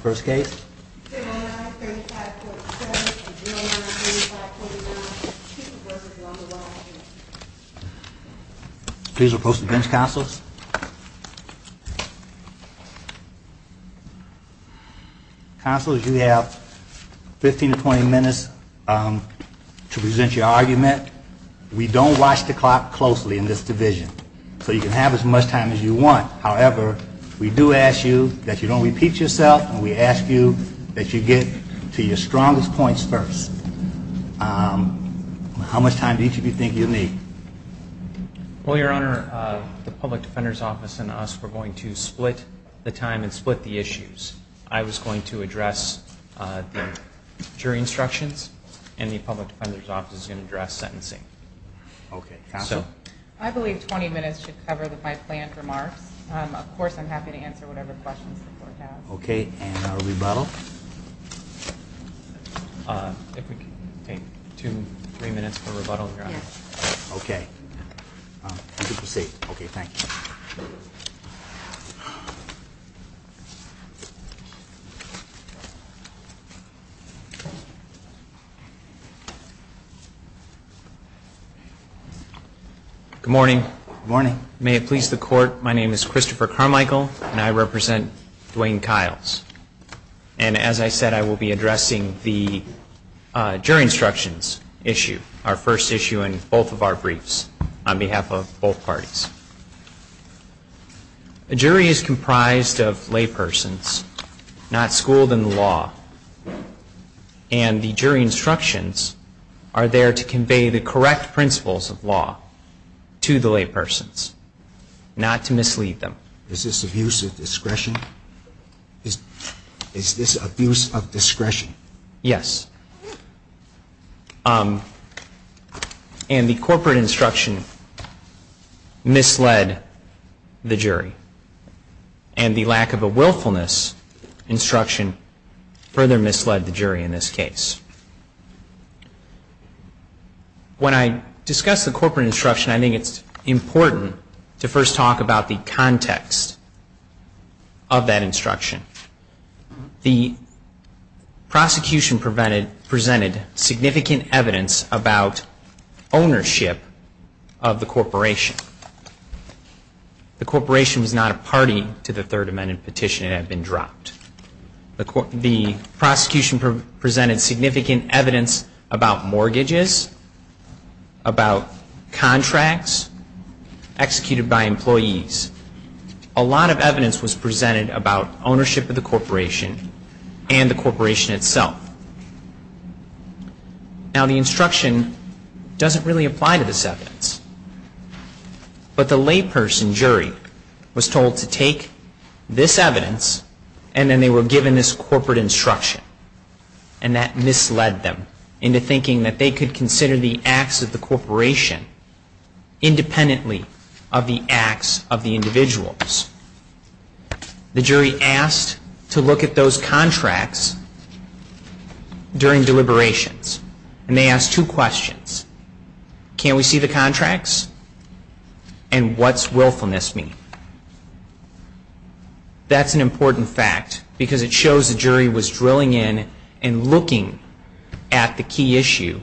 First case. Please oppose the bench counsels. Counselors, you have 15 to 20 minutes to present your argument. We don't watch the clock closely in this division, so you can have as much time as you want. However, we do ask you that you don't repeat yourself, and we ask you that you get to your strongest points first. How much time do each of you think you'll need? Well, Your Honor, the Public Defender's Office and us, we're going to split the time and split the issues. I was going to address the jury instructions, and the Public Defender's Office is going to address sentencing. I believe 20 minutes should cover the five planned remarks. Of course, I'm happy to answer whatever questions you have. Okay, and a rebuttal? Three minutes for rebuttal? Okay. Thank you. Good morning. Good morning. May it please the Court, my name is Christopher Carmichael, and I represent Dwayne Kiles. And as I said, I will be addressing the jury instructions issue, our first issue in both of our briefs on behalf of both parties. The jury is comprised of laypersons, not schooled in the law. And the jury instructions are there to convey the correct principles of law to the laypersons, not to mislead them. Is this abuse of discretion? Is this abuse of discretion? Yes. And the corporate instruction misled the jury. And the lack of a willfulness instruction further misled the jury in this case. When I discuss the corporate instruction, I think it's important to first talk about the context of that instruction. The prosecution presented significant evidence about ownership of the corporation. The corporation is not a party to the Third Amendment petition and has been dropped. The prosecution presented significant evidence about mortgages, about contracts executed by employees. A lot of evidence was presented about ownership of the corporation and the corporation itself. Now, the instruction doesn't really apply to this evidence. But the layperson jury was told to take this evidence, and then they were given this corporate instruction. And that misled them into thinking that they could consider the acts of the corporation independently of the acts of the individuals. The jury asked to look at those contracts during deliberations. And they asked two questions. Can we see the contracts? And what's willfulness mean? That's an important fact, because it shows the jury was drilling in and looking at the key issue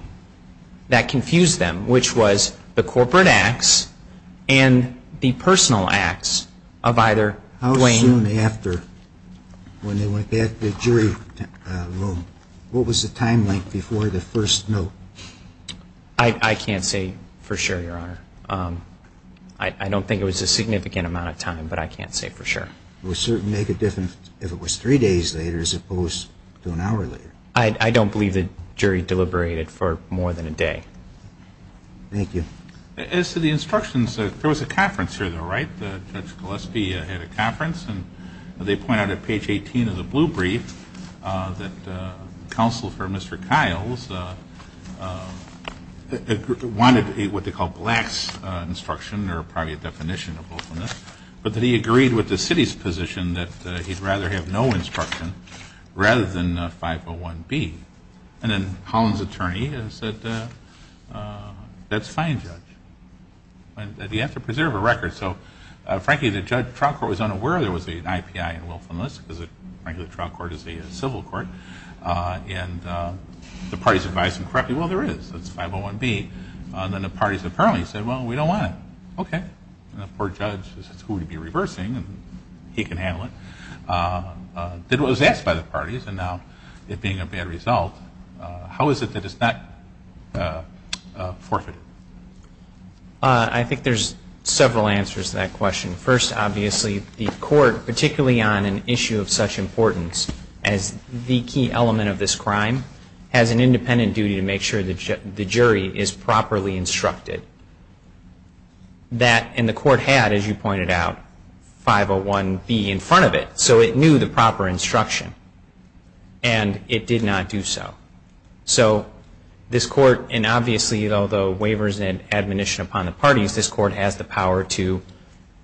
that confused them, which was the corporate acts and the personal acts of either Wayne. How soon after, when they went back to the jury room, what was the timeline before the first note? I don't think it was a significant amount of time, but I can't say for sure. It would certainly make a difference if it was three days later as opposed to an hour later. I don't believe the jury deliberated for more than a day. Thank you. As to the instructions, there was a conference here, though, right? Ted Scholeski had a conference. And they pointed out at page 18 of the blue brief that counsel for Mr. Kiles wanted what they call black instruction, or probably a definition of willfulness, but that he agreed with the city's position that he'd rather have no instruction rather than 501B. And then Collins' attorney said, that's fine, Judge. You have to preserve a record. So, frankly, the trial court was unaware there was an IPI in willfulness because the trial court is a civil court. And the parties advised him correctly, well, there is. It's 501B. And then the parties apparently said, well, we don't want it. Okay. And the poor judge, who would be reversing, and he can handle it, did what was asked by the parties. And now, it being a bad result, how is it that it's not forfeited? I think there's several answers to that question. First, obviously, the court, particularly on an issue of such importance as the key element of this crime, has an independent duty to make sure the jury is properly instructed. And the court had, as you pointed out, 501B in front of it, so it knew the proper instruction. And it did not do so. So, this court, and obviously, although waivers and admonition upon the parties, this court has the power to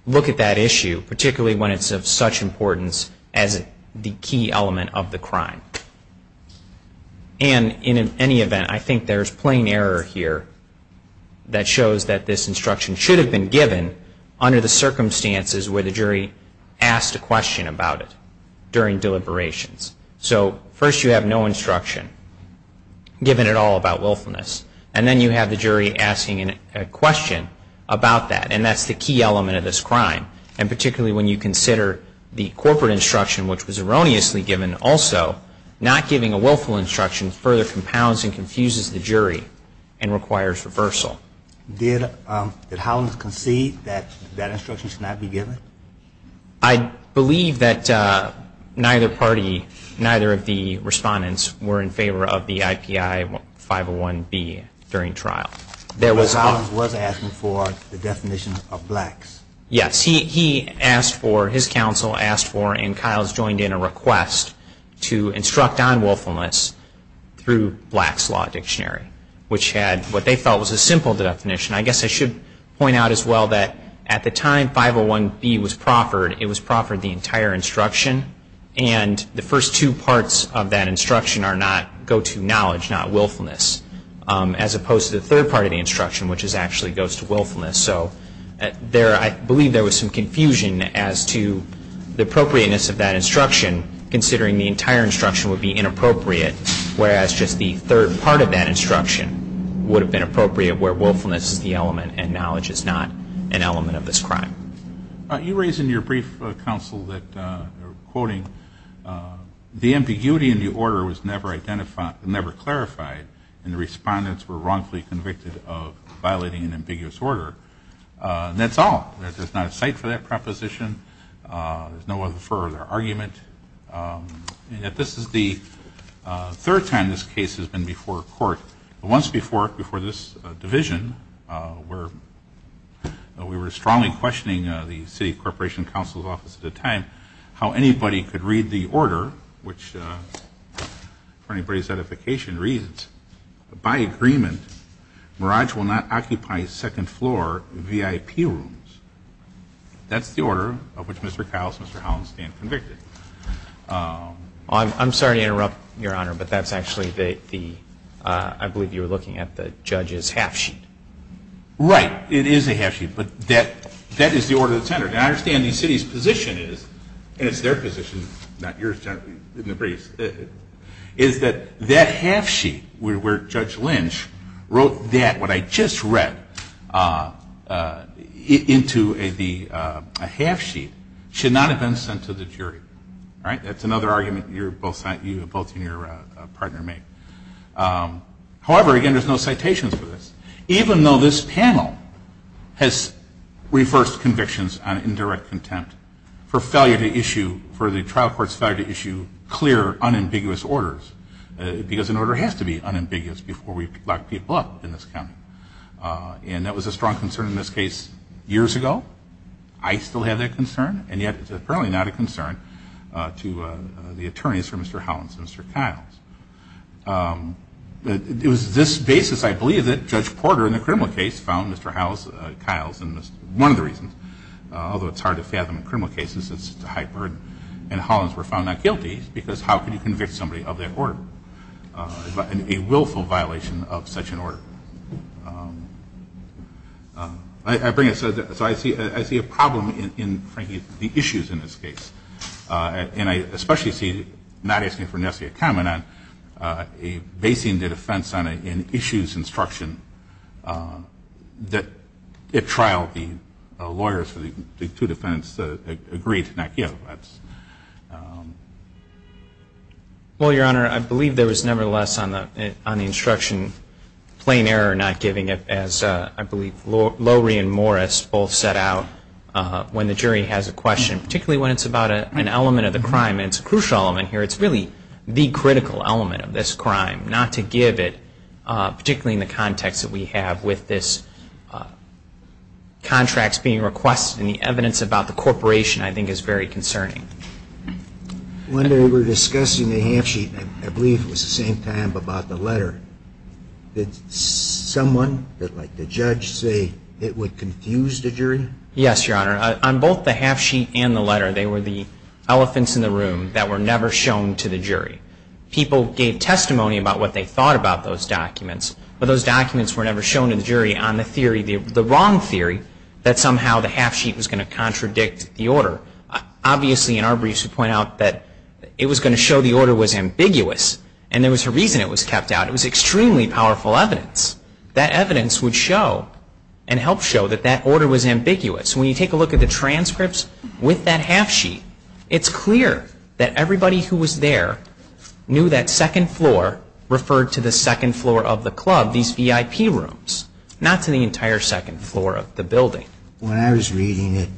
look at that issue, particularly when it's of such importance as the key element of the crime. And in any event, I think there's plain error here that shows that this instruction should have been given under the circumstances where the jury asked a question about it during deliberations. So, first, you have no instruction given at all about willfulness. And then, you have the jury asking a question about that, and that's the key element of this crime. And particularly, when you consider the corporate instruction, which was erroneously given also, not giving a willful instruction further compounds and confuses the jury and requires reversal. Did Hollins concede that that instruction should not be given? I believe that neither party, neither of the respondents were in favor of the IPI 501B during trial. There was, Hollins was asking for the definition of blacks. Yes, he asked for, his counsel asked for, and Kyles joined in a request to instruct on willfulness through Black's Law Dictionary, which had what they felt was a simple definition. I guess I should point out as well that at the time 501B was proffered, it was proffered the entire instruction, and the first two parts of that instruction are not go-to knowledge, not willfulness, as opposed to the third part of the instruction, which actually goes to willfulness. So, I believe there was some confusion as to the appropriateness of that instruction, considering the entire instruction would be inappropriate, whereas just the third part of that instruction would have been appropriate where willfulness is the element and knowledge is not an element of this crime. You raised in your brief, counsel, that, quoting, the ambiguity in the order was never identified, never clarified, and the respondents were wrongfully convicted of violating an ambiguous order. That's all. There's not a cite for that proposition. There's no other further argument. This is the third time this case has been before court. Once before this division, we were strongly questioning the city corporation counsel's office at the time how anybody could read the order, which, for anybody's edification reasons, by agreement, Merage will not occupy second floor VIP rooms. That's the order of which Mr. Kyle and Mr. Holland stand convicted. I'm sorry to interrupt, Your Honor, but that's actually the, I believe you were looking at the judge's half sheet. Right. It is a half sheet, but that is the order of the center. Now, I understand the city's position is, and it's their position, not yours, wrote that, what I just read, into a half sheet should not have been sent to the jury. That's another argument you and your partner make. However, again, there's no citation for this, even though this panel has reversed convictions on indirect contempt for failure to issue, for the trial court's failure to issue clear, unambiguous orders, because an order has to be unambiguous before we lock people up in this county. And that was a strong concern in this case years ago. I still have that concern, and yet it's apparently not a concern to the attorneys for Mr. Holland and Mr. Kyle. It was this basis, I believe, that Judge Porter in the criminal case found Mr. Kyle, and this is one of the reasons, although it's hard to fathom a criminal case, since it's a high burden, and Hollands were found not guilty, because how can you convict somebody of their order, a willful violation of such an order? So I see a problem in the issues in this case, and I especially see, not asking for a necessary comment on it, basing the defense on an issues instruction that, at trial, the lawyers for the two defendants agree it's not guilty. Well, Your Honor, I believe there was, nevertheless, on the instruction, plain error not giving it, as I believe Lori and Morris both set out when the jury has a question, particularly when it's about an element of a crime, and it's a crucial element here. It's really the critical element of this crime, not to give it, particularly in the context that we have with this contract being requested, and the evidence about the corporation, I think, is very concerning. One day we were discussing the half-sheet, and I believe it was the same time about the letter. Did someone, like the judge, say it would confuse the jury? Yes, Your Honor. On both the half-sheet and the letter, they were the elephants in the room that were never shown to the jury. People gave testimony about what they thought about those documents, but those documents were never shown to the jury on the theory, the wrong theory, that somehow the half-sheet was going to contradict the order. Obviously, in our briefs, we point out that it was going to show the order was ambiguous, and there was a reason it was kept out. It was extremely powerful evidence. That evidence would show and help show that that order was ambiguous. When you take a look at the transcripts with that half-sheet, it's clear that everybody who was there knew that second floor referred to the second floor of the club, these EIP rooms, not to the entire second floor of the building. When I was reading it,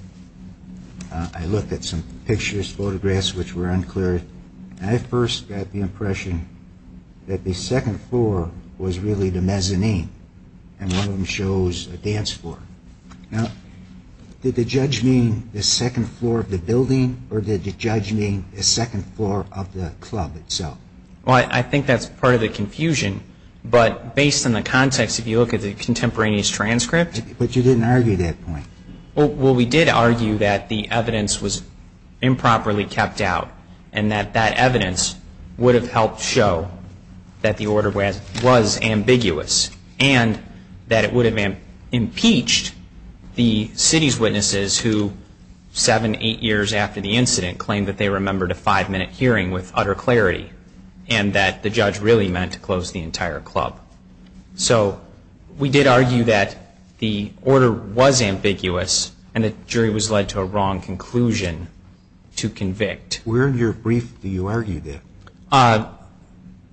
I looked at some pictures, photographs, which were unclear, and I first got the impression that the second floor was really the mezzanine, and one of them shows a dance floor. Now, did the judge mean the second floor of the building, or did the judge mean the second floor of the club itself? Well, I think that's part of the confusion, but based on the context, if you look at the contemporaneous transcript... But you didn't argue that point. Well, we did argue that the evidence was improperly kept out, and that that evidence would have helped show that the order was ambiguous, and that it would have impeached the city's witnesses who, seven, eight years after the incident, claimed that they remembered a five-minute hearing with utter clarity, and that the judge really meant to close the entire club. So we did argue that the order was ambiguous, and the jury was led to a wrong conclusion to convict. Where in your brief do you argue this?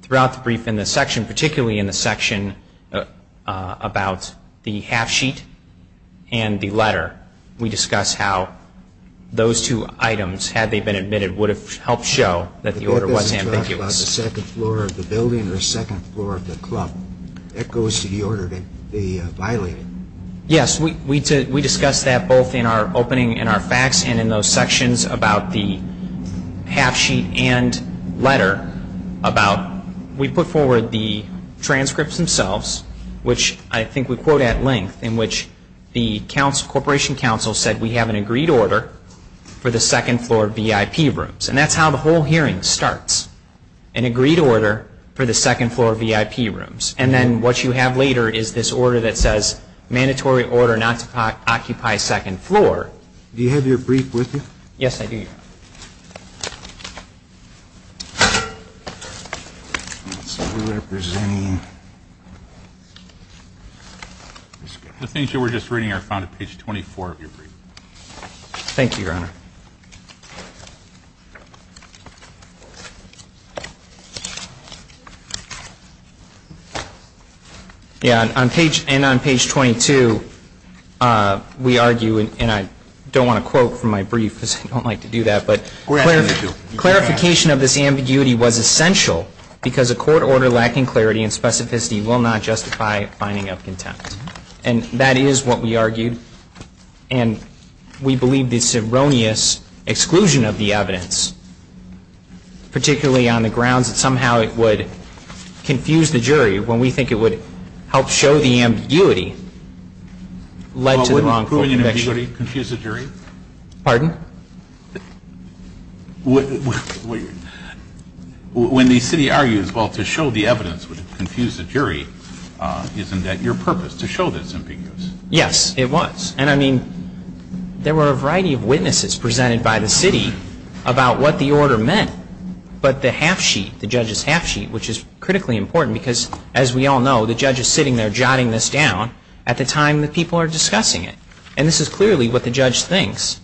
Throughout the brief in the section, particularly in the section about the half-sheet and the letter, we discuss how those two items, had they been admitted, would have helped show that the order was ambiguous. The second floor of the building and the second floor of the club, that goes to the order that they violated. Yes, we discussed that both in our opening and our facts, and in those sections about the half-sheet and letter. We put forward the transcripts themselves, which I think we quote at length, in which the corporation council said, we have an agreed order for the second floor VIP rooms. And that's how the whole hearing starts, an agreed order for the second floor VIP rooms. And then what you have later is this order that says, mandatory order not to occupy second floor. Do you have your brief with you? Yes, I do. The things you were just reading are found on page 24 of your brief. Thank you, Your Honor. Thank you. Yes, and on page 22, we argue, and I don't want to quote from my brief because I don't like to do that, but clarification of this ambiguity was essential, because a court order lacking clarity and specificity will not justify finding out the context. And that is what we argue, and we believe it's erroneous exclusion of the evidence, particularly on the grounds that somehow it would confuse the jury when we think it would help show the ambiguity led to the wrong conviction. Confuse the jury? Pardon? When the city argues, well, to show the evidence would confuse the jury, isn't that your purpose, to show that it's ambiguous? Yes, it was. And, I mean, there were a variety of witnesses presented by the city about what the order meant, but the half-sheet, the judge's half-sheet, which is critically important because, as we all know, the judge is sitting there jotting this down at the time that people are discussing it. And this is clearly what the judge thinks.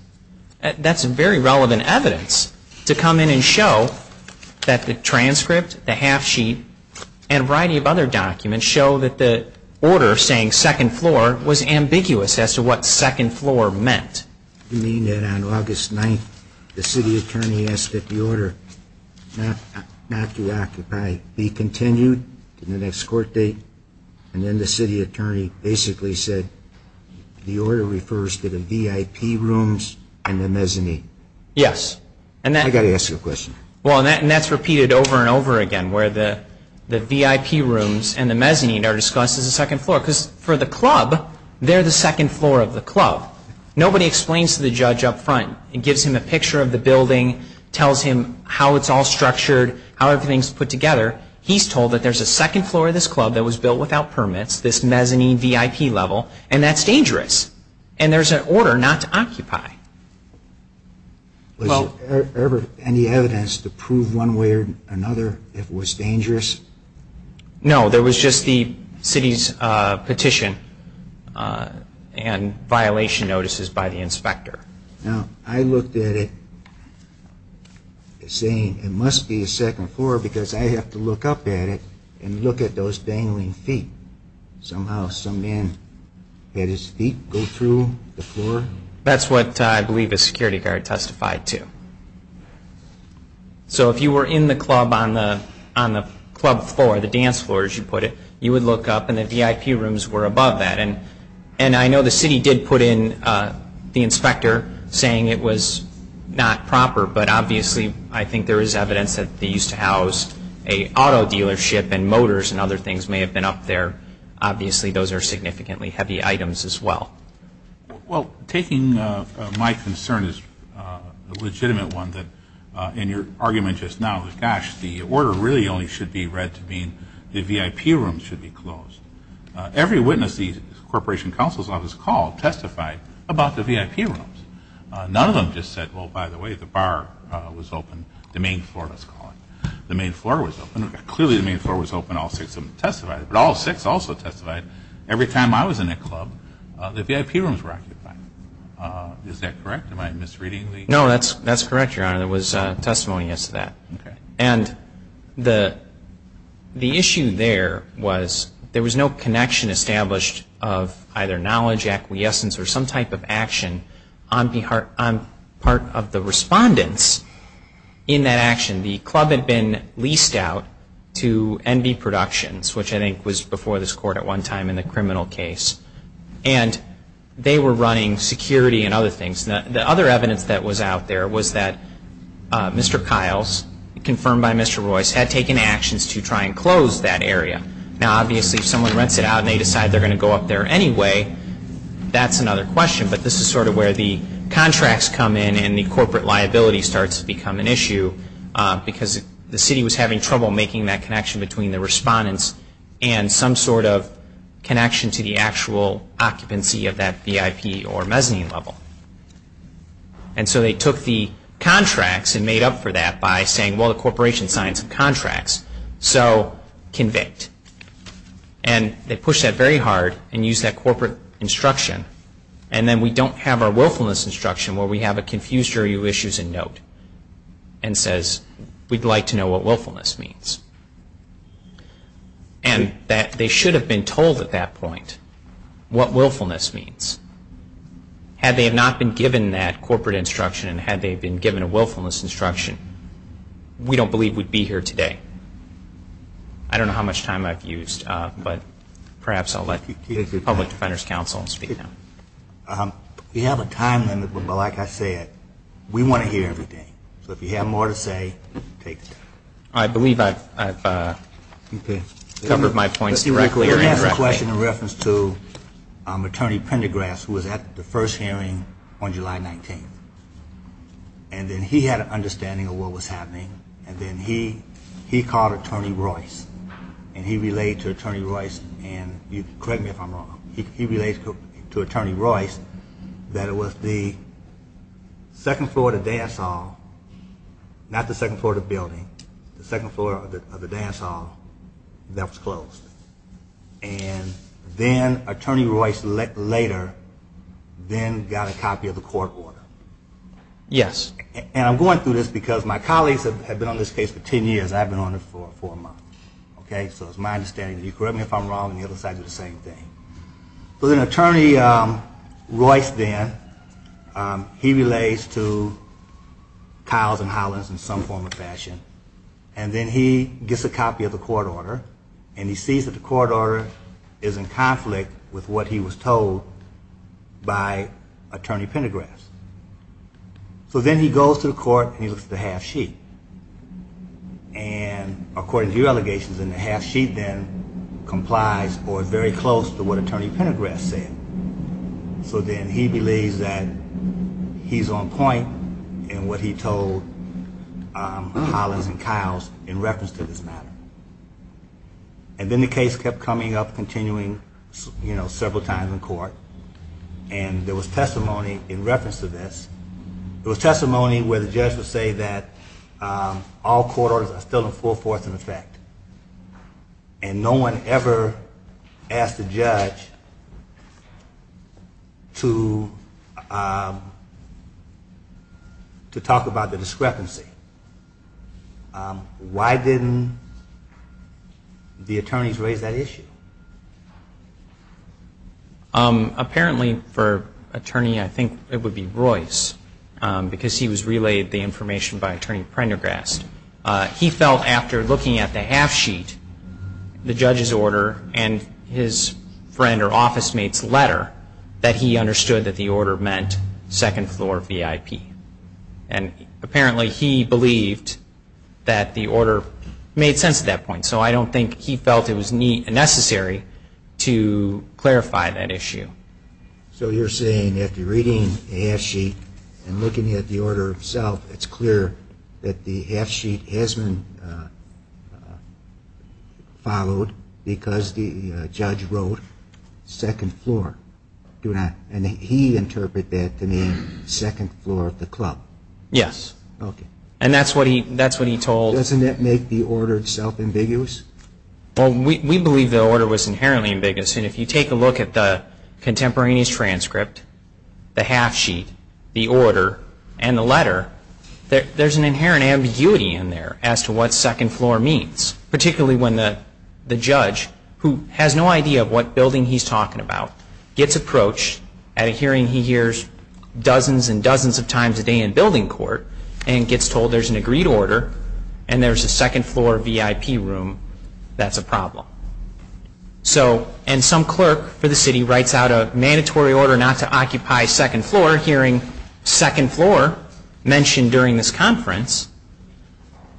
That's very relevant evidence to come in and show that the transcript, the half-sheet, and a variety of other documents can show that the order saying second floor was ambiguous as to what second floor meant. You mean that on August 9th the city attorney asked that the order not to occupy, be continued to the next court date, and then the city attorney basically said, the order refers to the VIP rooms and the mezzanine. Yes. I've got to ask you a question. Well, and that's repeated over and over again, where the VIP rooms and the mezzanine are discussed as the second floor. Because for the club, they're the second floor of the club. Nobody explains to the judge up front and gives him a picture of the building, tells him how it's all structured, how everything's put together. He's told that there's a second floor of this club that was built without permits, this mezzanine VIP level, and that's dangerous. And there's an order not to occupy. Was there ever any evidence to prove one way or another that it was dangerous? No, there was just the city's petition and violation notices by the inspector. I looked at it saying it must be a second floor because I have to look up at it and look at those dangling feet. Somehow some man had his feet go through the floor. That's what I believe the security guard testified to. So if you were in the club on the club floor, the dance floor as you put it, you would look up and the VIP rooms were above that. And I know the city did put in the inspector saying it was not proper, but obviously I think there is evidence that they used to house an auto dealership and motors and other things may have been up there. Obviously those are significantly heavy items as well. Well, taking my concern as a legitimate one that in your argument just now, gosh, the order really only should be read to mean the VIP rooms should be closed. Every witness the Corporation Counsel's Office called testified about the VIP rooms. None of them just said, oh, by the way, the bar was open, the main floor, let's call it. The main floor was open. Clearly the main floor was open. All six of them testified. But all six also testified every time I was in that club that the VIP rooms were occupied. Is that correct? Am I misreading? No, that's correct, Your Honor. It was testimony as to that. Okay. And the issue there was there was no connection established of either knowledge, acquiescence or some type of action on part of the respondents in that action. The club had been leased out to Envy Productions, which I think was before this court at one time in the criminal case. And they were running security and other things. The other evidence that was out there was that Mr. Kiles, confirmed by Mr. Royce, had taken actions to try and close that area. Now, obviously if someone rents it out and they decide they're going to go up there anyway, that's another question. But this is sort of where the contracts come in and the corporate liability starts to become an issue because the city was having trouble making that connection between the respondents and some sort of connection to the actual occupancy of that VIP or mezzanine level. And so they took the contracts and made up for that by saying, well, the corporation signs the contracts, so convict. And they push that very hard and use that corporate instruction and then we don't have our willfulness instruction where we have a confused jury of issues in note and says, we'd like to know what willfulness means. And that they should have been told at that point what willfulness means. Had they not been given that corporate instruction and had they been given a willfulness instruction, we don't believe we'd be here today. I don't know how much time I've used, but perhaps I'll let the Public Defender's Council speak now. We have a time limit, but like I said, we want to hear everything. So if you have more to say, take it. I believe I've covered my points directly or indirectly. I have a question in reference to Attorney Pendergrass who was at the first hearing on July 19th. And then he had an understanding of what was happening and then he called Attorney Royce and he related to Attorney Royce, and correct me if I'm wrong, he relates to Attorney Royce that it was the second floor of the dance hall, not the second floor of the building, the second floor of the dance hall that was closed. And then Attorney Royce later then got a copy of the court order. Yes. And I'm going through this because my colleagues have been on this case for ten years. I've been on it for four months. Okay? So it's my understanding. You correct me if I'm wrong and the other side does the same thing. So then Attorney Royce then, he relates to Tiles and Hollins in some form or fashion. And then he gets a copy of the court order and he sees that the court order is in conflict with what he was told by Attorney Pendergrass. So then he goes to the court and he looks at the half sheet. And according to your allegations, the half sheet then complies or is very close to what Attorney Pendergrass said. So then he believes that he's on point in what he told Hollins and Tiles in reference to this matter. And then the case kept coming up, continuing several times in court. And there was testimony in reference to this. There was testimony where the judge would say that all court orders are still in full force in effect. And no one ever asked the judge to talk about the discrepancy. Why didn't the attorneys raise that issue? Apparently for Attorney, I think it would be Royce, because he was relayed the information by Attorney Pendergrass. He felt after looking at the half sheet, the judge's order, and his friend or office mate's letter that he understood that the order meant second floor VIP. And apparently he believed that the order made sense at that point. So I don't think he felt it was necessary to clarify that issue. So you're saying that after reading the half sheet and looking at the order itself, it's clear that the half sheet hasn't followed because the judge wrote second floor. And he interpreted that to mean second floor of the club. Yes. Okay. And that's what he told. Doesn't that make the order itself ambiguous? Well, we believe the order was inherently ambiguous. And if you take a look at the contemporaneous transcript, the half sheet, the order, and the letter, there's an inherent ambiguity in there as to what second floor means, particularly when the judge, who has no idea of what building he's talking about, gets approached at a hearing he hears dozens and dozens of times a day in building court and gets told there's an agreed order and there's a second floor VIP room that's a problem. And some clerk for the city writes out a mandatory order not to occupy second floor, hearing second floor mentioned during this conference.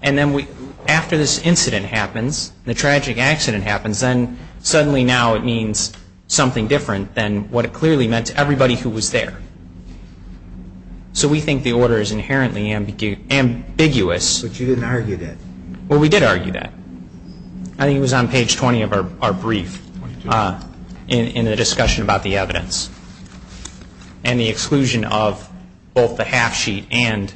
And then after this incident happens, the tragic accident happens, then suddenly now it means something different than what it clearly meant to everybody who was there. So we think the order is inherently ambiguous. But you didn't argue that. Well, we did argue that. I think it was on page 20 of our brief in the discussion about the evidence and the exclusion of both the half sheet and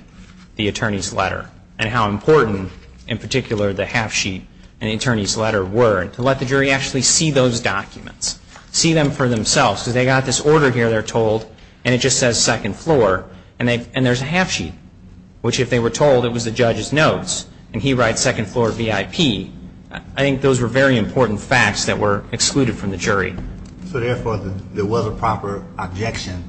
the attorney's letter and how important in particular the half sheet and the attorney's letter were to let the jury actually see those documents, see them for themselves. So they got this order here they're told and it just says second floor and there's a half sheet, which if they were told it was the judge's notes and he writes second floor VIP, I think those were very important facts that were excluded from the jury. So therefore there was a proper objection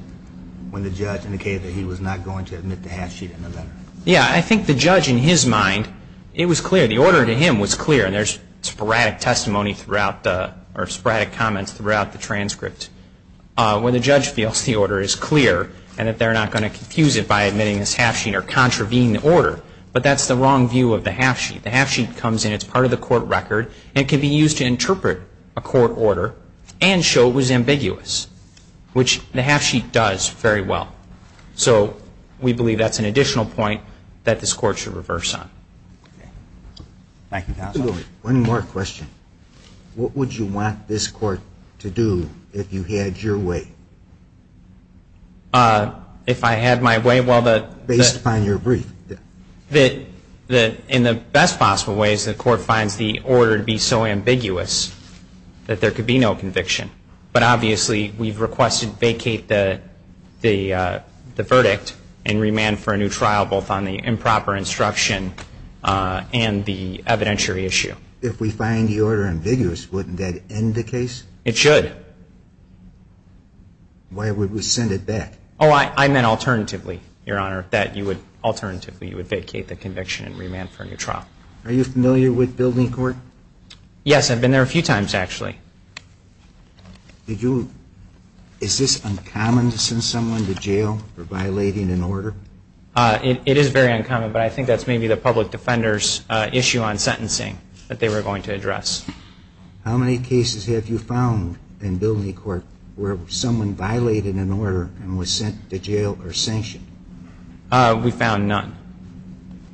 when the judge indicated that he was not going to admit the half sheet in the letter. Yeah, I think the judge in his mind, it was clear, the order to him was clear and there's sporadic testimony throughout the, or sporadic comments throughout the transcripts. When the judge feels the order is clear and that they're not going to confuse it by admitting this half sheet or contravening the order, but that's the wrong view of the half sheet. The half sheet comes in as part of the court record and can be used to interpret a court order and show it was ambiguous, which the half sheet does very well. So we believe that's an additional point that this court should reverse on. Thank you, counsel. One more question. What would you want this court to do if you had your way? If I had my way? Based upon your brief. In the best possible ways, the court finds the order to be so ambiguous that there could be no conviction. But obviously we've requested vacate the verdict and remand for a new trial based upon both on the improper instruction and the evidentiary issue. If we find the order ambiguous, wouldn't that end the case? It should. Why would we send it back? Oh, I meant alternatively, Your Honor, that you would, alternatively, you would vacate the conviction and remand for a new trial. Are you familiar with building court? Yes, I've been there a few times, actually. Is this uncommon to send someone to jail for violating an order? It is very uncommon, but I think that's maybe the public defender's issue on sentencing that they were going to address. How many cases have you found in building court where someone violated an order and was sent to jail or sanctioned? We found none.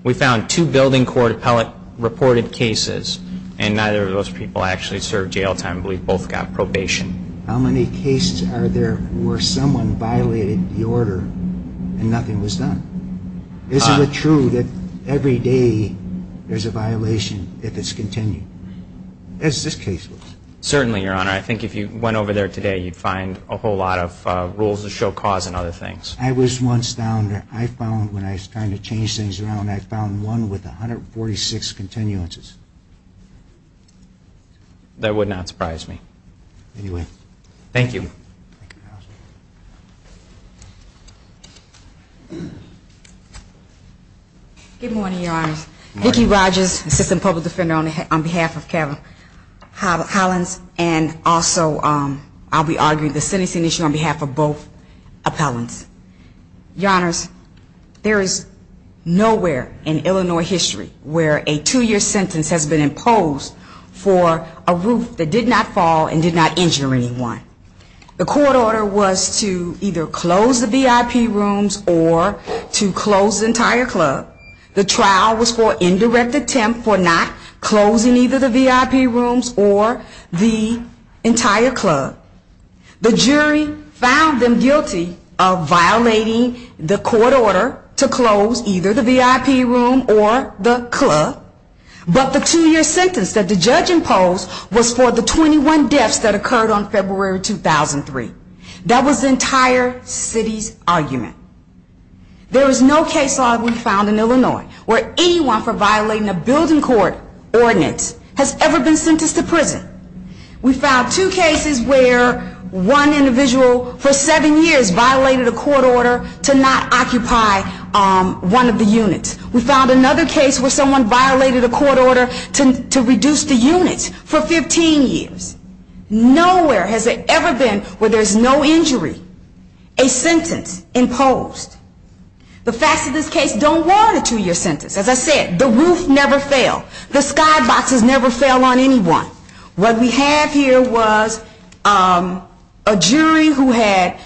We found two building court appellate reported cases, and neither of those people actually served jail time. We both got probation. How many cases are there where someone violated the order and nothing was done? Is it true that every day there's a violation if it's continued, as this case was? Certainly, Your Honor. I think if you went over there today, you'd find a whole lot of rules that show cause and other things. I was once found, when I was trying to change things around, I found one with 146 continuances. That would not surprise me. Thank you. Good morning, Your Honor. Vicki Rogers, assistant public defender on behalf of Collins, and also, I'll be arguing the sentencing issue on behalf of both appellants. Your Honor, there is nowhere in Illinois history where a two-year sentence has been imposed for a roof that did not fall and did not injure anyone. The court order was to either close the VIP rooms or to close the entire club. The trial was for indirect attempt for not closing either the VIP rooms or the entire club. The jury found them guilty of violating the court order to close either the VIP room or the club, but the two-year sentence that the judge imposed was for the 21 deaths that occurred on February 2003. There is no case law we found in Illinois where anyone for violating a building court ordinance has ever been sentenced to prison. We found two cases where one individual for seven years violated a court order to not occupy one of the units. We found another case where someone violated a court order to reduce the unit for 15 years. Nowhere has it ever been where there is no injury, a sentence imposed. The facts of this case don't warrant a two-year sentence. As I said, the roof never fell. The skyboxes never fell on anyone. What we have here was a jury who had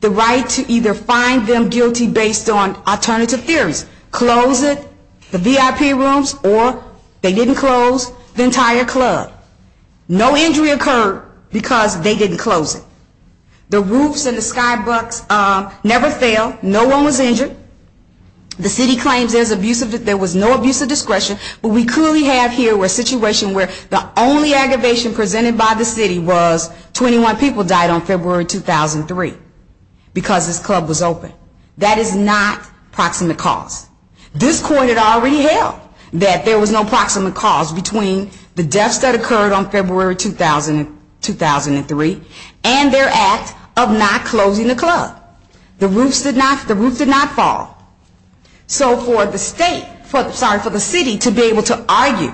the right to either find them guilty based on alternative theories, close the VIP rooms or they didn't close the entire club. No injury occurred because they didn't close it. The roofs and the skyboxes never fell. No one was injured. The city claims there was no abuse of discretion, but we clearly have here a situation where the only aggravation presented by the city was 21 people died on February 2003 because this club was open. That is not proximate cause. This court had already held that there was no proximate cause between the deaths that occurred on February 2003 and their act of not closing the club. The roof did not fall. So for the city to be able to argue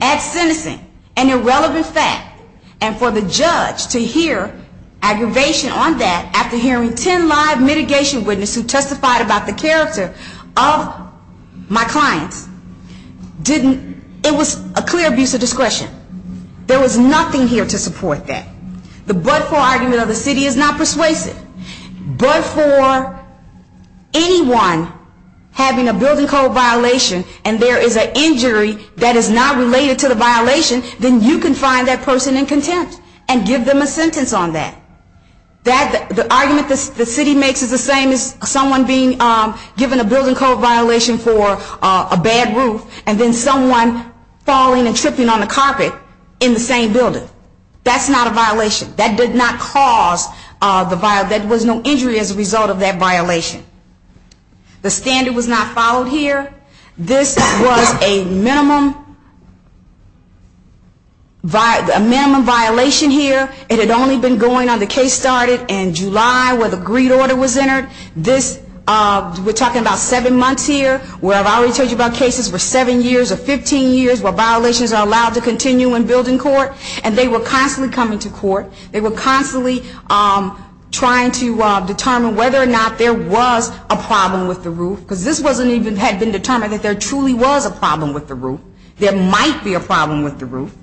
as sentencing an irrelevant fact and for the judge to hear aggravation on that after hearing ten live mitigation witnesses who testified about the character of my client, it was a clear abuse of discretion. There was nothing here to support that. The but-for argument of the city is not persuasive. But for anyone having a building code violation and there is an injury that is not related to the violation, then you can find that person in contempt and give them a sentence on that. The argument the city makes is the same as someone being given a building code violation for a bad roof and then someone falling and tripping on the carpet in the same building. That's not a violation. That did not cause the violation. There was no injury as a result of that violation. The standard was not followed here. This was a minimum violation here. It had only been going on the case started in July where the greed order was entered. We're talking about seven months here where I've already told you about cases for seven years or 15 years where violations are allowed to continue in building court, and they were constantly coming to court. They were constantly trying to determine whether or not there was a problem with the roof because this hadn't even been determined that there truly was a problem with the roof. There might be a problem with the roof.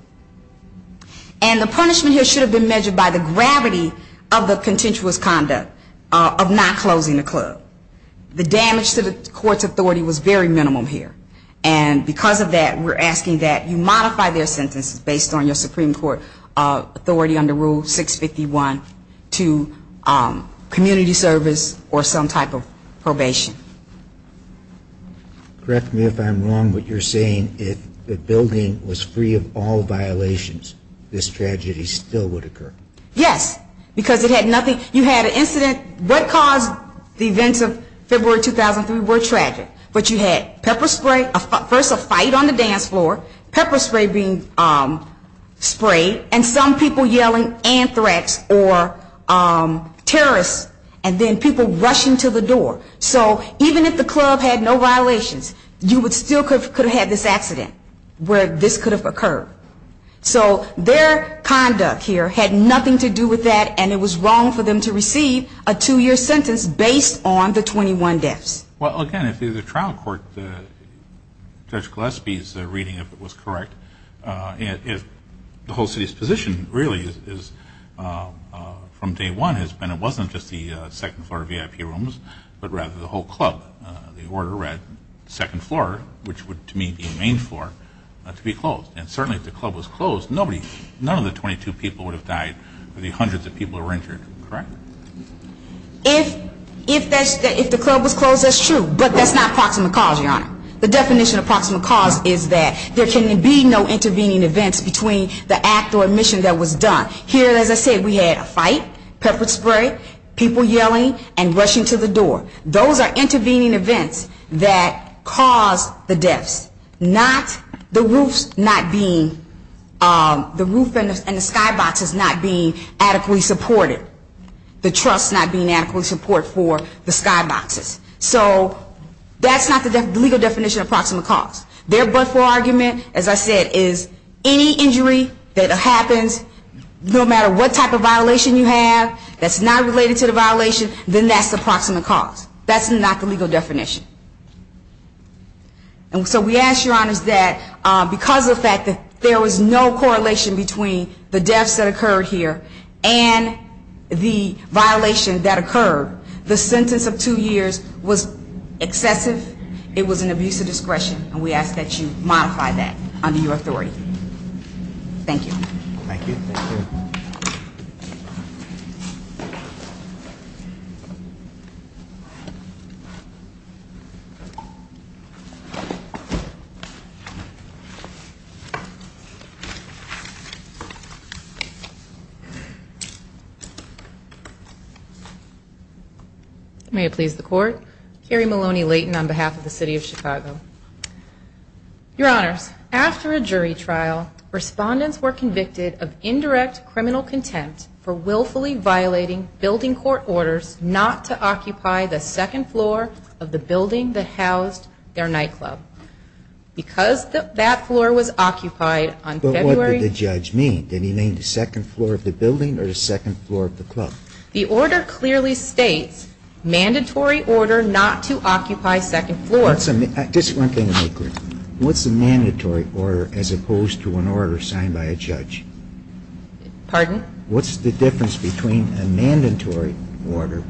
And the punishment here should have been measured by the gravity of the contentious conduct, of not closing the club. The damage to the court's authority was very minimal here. And because of that, we're asking that you modify their sentence based on your Supreme Court authority under Rule 651 to community service or some type of probation. Correct me if I'm wrong, but you're saying if the building was free of all violations, this tragedy still would occur. Yes, because it had nothing. You had an incident. What caused the events of February 2003 were tragic. But you had pepper spray, first a fight on the dance floor, pepper spray being sprayed, and some people yelling, and threats, or terrorists, and then people rushing to the door. So even if the club had no violations, you still could have had this accident where this could have occurred. So their conduct here had nothing to do with that, and it was wrong for them to receive a two-year sentence based on the 21 deaths. Well, again, if the trial court, Judge Gillespie's reading, if it was correct, the whole city's position really is, from day one, it wasn't just the second floor VIP rooms, but rather the whole club. The order read, second floor, which would to me be the main floor, must be closed. And certainly if the club was closed, none of the 22 people would have died, or the hundreds of people who were injured. Correct? If the club was closed, that's true, but that's not a proximate cause, Your Honor. The definition of proximate cause is that there can be no intervening events between the act or mission that was done. Here, as I said, we had a fight, pepper spray, people yelling, and rushing to the door. Those are intervening events that caused the deaths, not the roof and the skyboxes not being adequately supported, the truss not being adequately supported for the skyboxes. So that's not the legal definition of proximate cause. Their but-for argument, as I said, is any injury that happens, no matter what type of violation you have that's not related to the violation, then that's the proximate cause. That's not the legal definition. And so we ask, Your Honor, that because of the fact that there was no correlation between the deaths that occurred here and the violations that occurred, the sentence of two years was excessive. It was an abuse of discretion, and we ask that you modify that under your authority. Thank you. Thank you. May it please the Court. Carrie Maloney Layton on behalf of the City of Chicago. Your Honor, after a jury trial, respondents were convicted of indirect criminal contempt for willfully violating building court orders not to occupy the second floor of the building that housed their nightclub. Because that floor was occupied on February... But what did the judge mean? Did he mean the second floor of the building? Or the second floor of the club? The order clearly states, mandatory order not to occupy second floor. This is one thing I agree with. What's a mandatory order as opposed to an order signed by a judge? Pardon? What's the difference between a mandatory order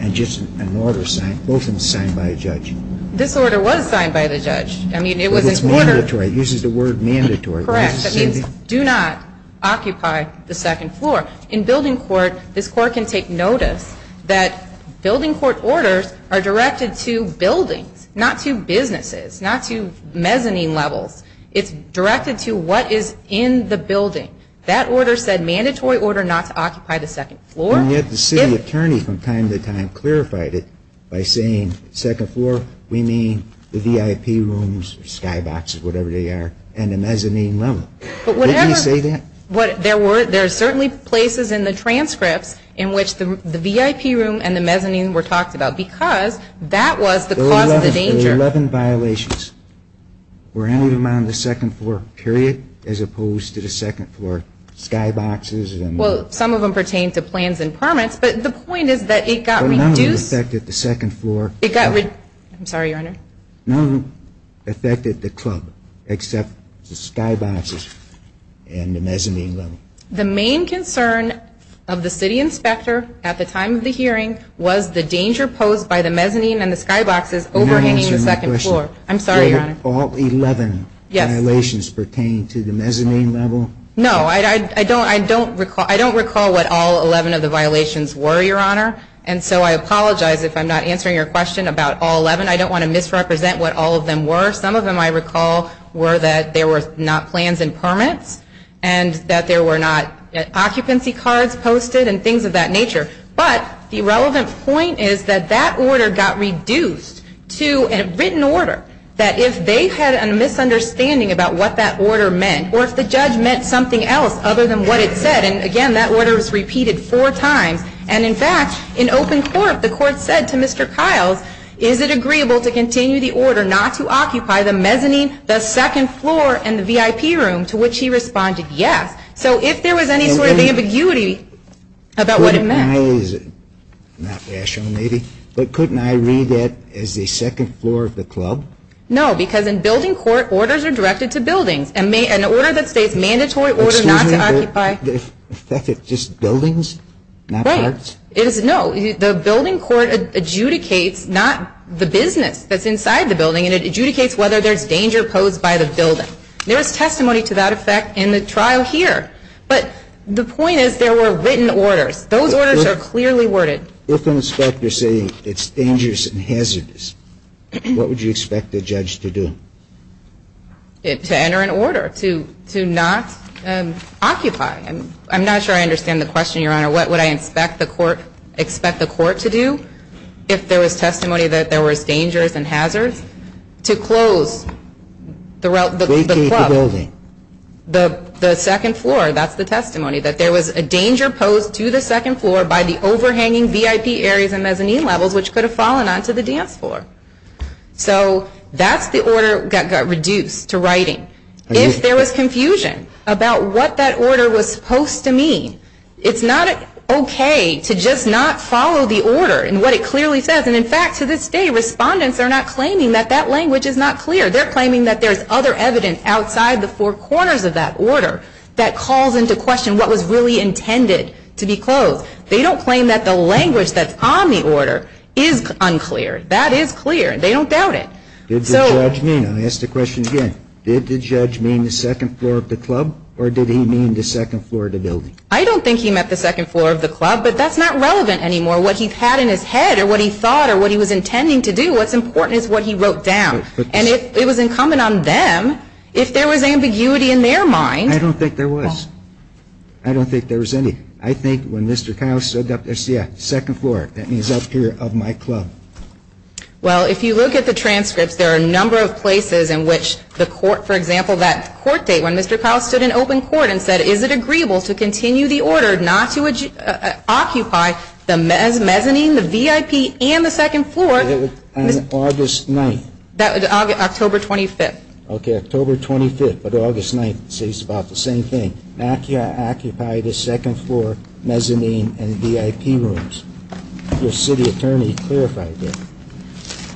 and just an order often signed by a judge? This order was signed by the judge. It was mandatory. It uses the word mandatory. Correct. That means do not occupy the second floor. In building court, this Court can take notice that building court orders are directed to building, not to businesses, not to mezzanine levels. It's directed to what is in the building. That order said mandatory order not to occupy the second floor. And yet the city attorney from time to time clarified it by saying second floor, we mean the VIP rooms, skyboxes, whatever they are, and the mezzanine level. But whatever... Did he say that? There are certainly places in the transcript in which the VIP room and the mezzanine were talked about because that was the cause of the danger. There were 11 violations. We're only around the second floor, period, as opposed to the second floor skyboxes and... Well, some of them pertain to plans and permits, but the point is that it got reduced... I'm sorry, Your Honor. None affected the club, except the skyboxes and the mezzanine level. The main concern of the city inspector at the time of the hearing was the danger posed by the mezzanine and the skyboxes overhanging the second floor. I'm sorry, Your Honor. Were all 11 violations pertaining to the mezzanine level? No, I don't recall what all 11 of the violations were, Your Honor, and so I apologize if I'm not answering your question about all 11. I don't want to misrepresent what all of them were. Some of them I recall were that there were not plans and permits and that there were not occupancy cards posted and things of that nature. But the relevant point is that that order got reduced to a written order, that if they had a misunderstanding about what that order meant or if the judge meant something else other than what it said, and again, that order was repeated four times, and in fact, in open court, the court said to Mr. Kiles, is it agreeable to continue the order not to occupy the mezzanine, the second floor, and the VIP room, to which he responded, yes. So if there was any sort of ambiguity about what it meant. Not rational, maybe, but couldn't I read that as the second floor of the club? No, because in building court, orders are directed to buildings. An order that says mandatory order not to occupy. Just buildings, not cards? No, the building court adjudicates not the business that's inside the building, it adjudicates whether there's danger posed by the building. There was testimony to that effect in the trial here. But the point is there were written orders. Those orders are clearly worded. If an inspector is saying it's dangerous and hazardous, what would you expect the judge to do? To enter an order, to not occupy. I'm not sure I understand the question, Your Honor. What would I expect the court to do if there was testimony that there was dangers and hazards? To close the club, the second floor. That's the testimony, that there was a danger posed to the second floor by the overhanging VIP areas and mezzanine levels, which could have fallen onto the dance floor. So that's the order that got reduced to writing. If there was confusion about what that order was supposed to mean, it's not okay to just not follow the order and what it clearly says. And, in fact, to this day, respondents are not claiming that that language is not clear. They're claiming that there's other evidence outside the four corners of that order that calls into question what was really intended to be closed. They don't claim that the language that's on the order is unclear. That is clear. They don't doubt it. Did the judge mean the second floor of the club, or did he mean the second floor of the building? I don't think he meant the second floor of the club, but that's not relevant anymore. What he's had in his head, or what he thought, or what he was intending to do, what's important is what he wrote down. And it was incumbent on them, if there was ambiguity in their mind. I don't think there was. I don't think there was any. I think when Mr. Klaus said, yeah, second floor, that means up here of my club. Well, if you look at the transcripts, there are a number of places in which the court, for example, that court date when Mr. Klaus stood in open court and said, is it agreeable to continue the order not to occupy the mezzanine, the VIP, and the second floor? That was on August 9th. That was October 25th. Okay, October 25th of August 9th, so it's about the same thing. Occupy the second floor, mezzanine, and VIP rooms. The city attorney clarified that.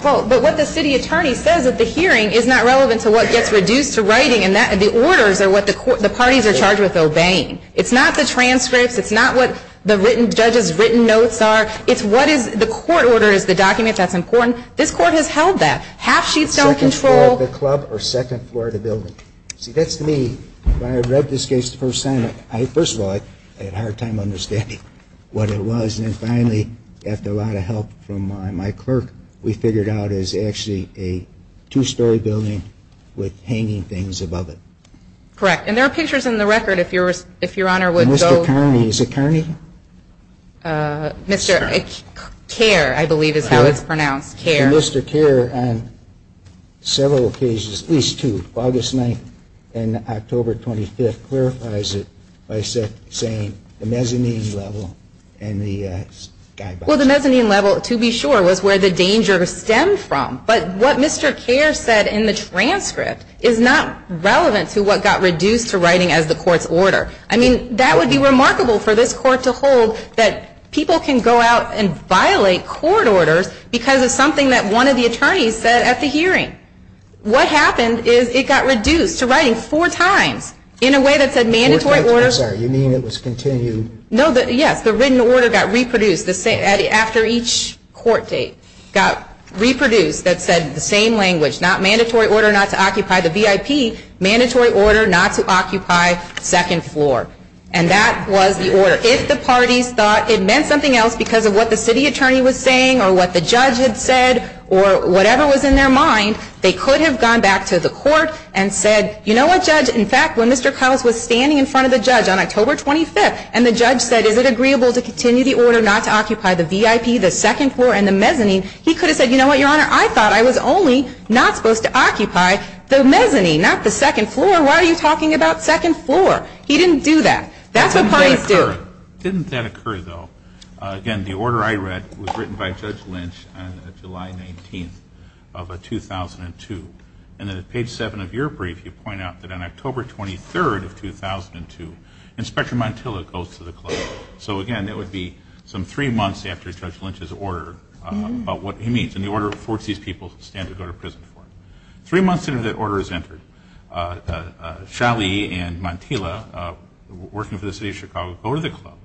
But what the city attorney says at the hearing is not relevant to what gets reduced to writing, and the orders are what the parties are charged with obeying. It's not the transcripts. It's not what the judge's written notes are. It's what is the court order is the document that's important. This court has held that. Half-sheet cell control. Second floor of the club or second floor of the building. See, that's to me, when I read this case the first time, first of all, I had a hard time understanding what it was, and then finally, after a lot of help from my clerk, we figured out it was actually a two-story building with hanging things above it. Correct, and there are pictures in the record if Your Honor would go. Mr. Kearney, is it Kearney? And Mr. Kearney on several occasions, at least two, August 9th and October 25th, clarifies it by saying the mezzanine level and the skybox. Well, the mezzanine level, to be sure, was where the danger stems from. But what Mr. Kearney said in the transcript is not relevant to what got reduced to writing as the court's order. I mean, that would be remarkable for this court to hold that people can go out and violate court orders because of something that one of the attorneys said at the hearing. What happened is it got reduced to writing four times in a way that said mandatory order. Four times, I'm sorry, you mean it was continued? No, yes, the written order got reproduced after each court date, got reproduced that said the same language, not mandatory order not to occupy the VIP, mandatory order not to occupy second floor, and that was the order. So if the parties thought it meant something else because of what the city attorney was saying or what the judge had said or whatever was in their mind, they could have gone back to the court and said, you know what, judge, in fact when Mr. Collins was standing in front of the judge on October 25th and the judge said is it agreeable to continue the order not to occupy the VIP, the second floor, and the mezzanine, he could have said, you know what, your honor, I thought I was only not supposed to occupy the mezzanine, not the second floor, why are you talking about second floor? He didn't do that. That's what parties do. Didn't that occur though? Again, the order I read was written by Judge Lynch on July 19th of 2002, and on page seven of your brief you point out that on October 23rd of 2002, Inspector Montilla goes to the court. So again, that would be some three months after Judge Lynch's order about what he means and the order for these people to stand to go to prison for. Three months after the order is entered, Chaly and Montilla, working for the city of Chicago, go to the club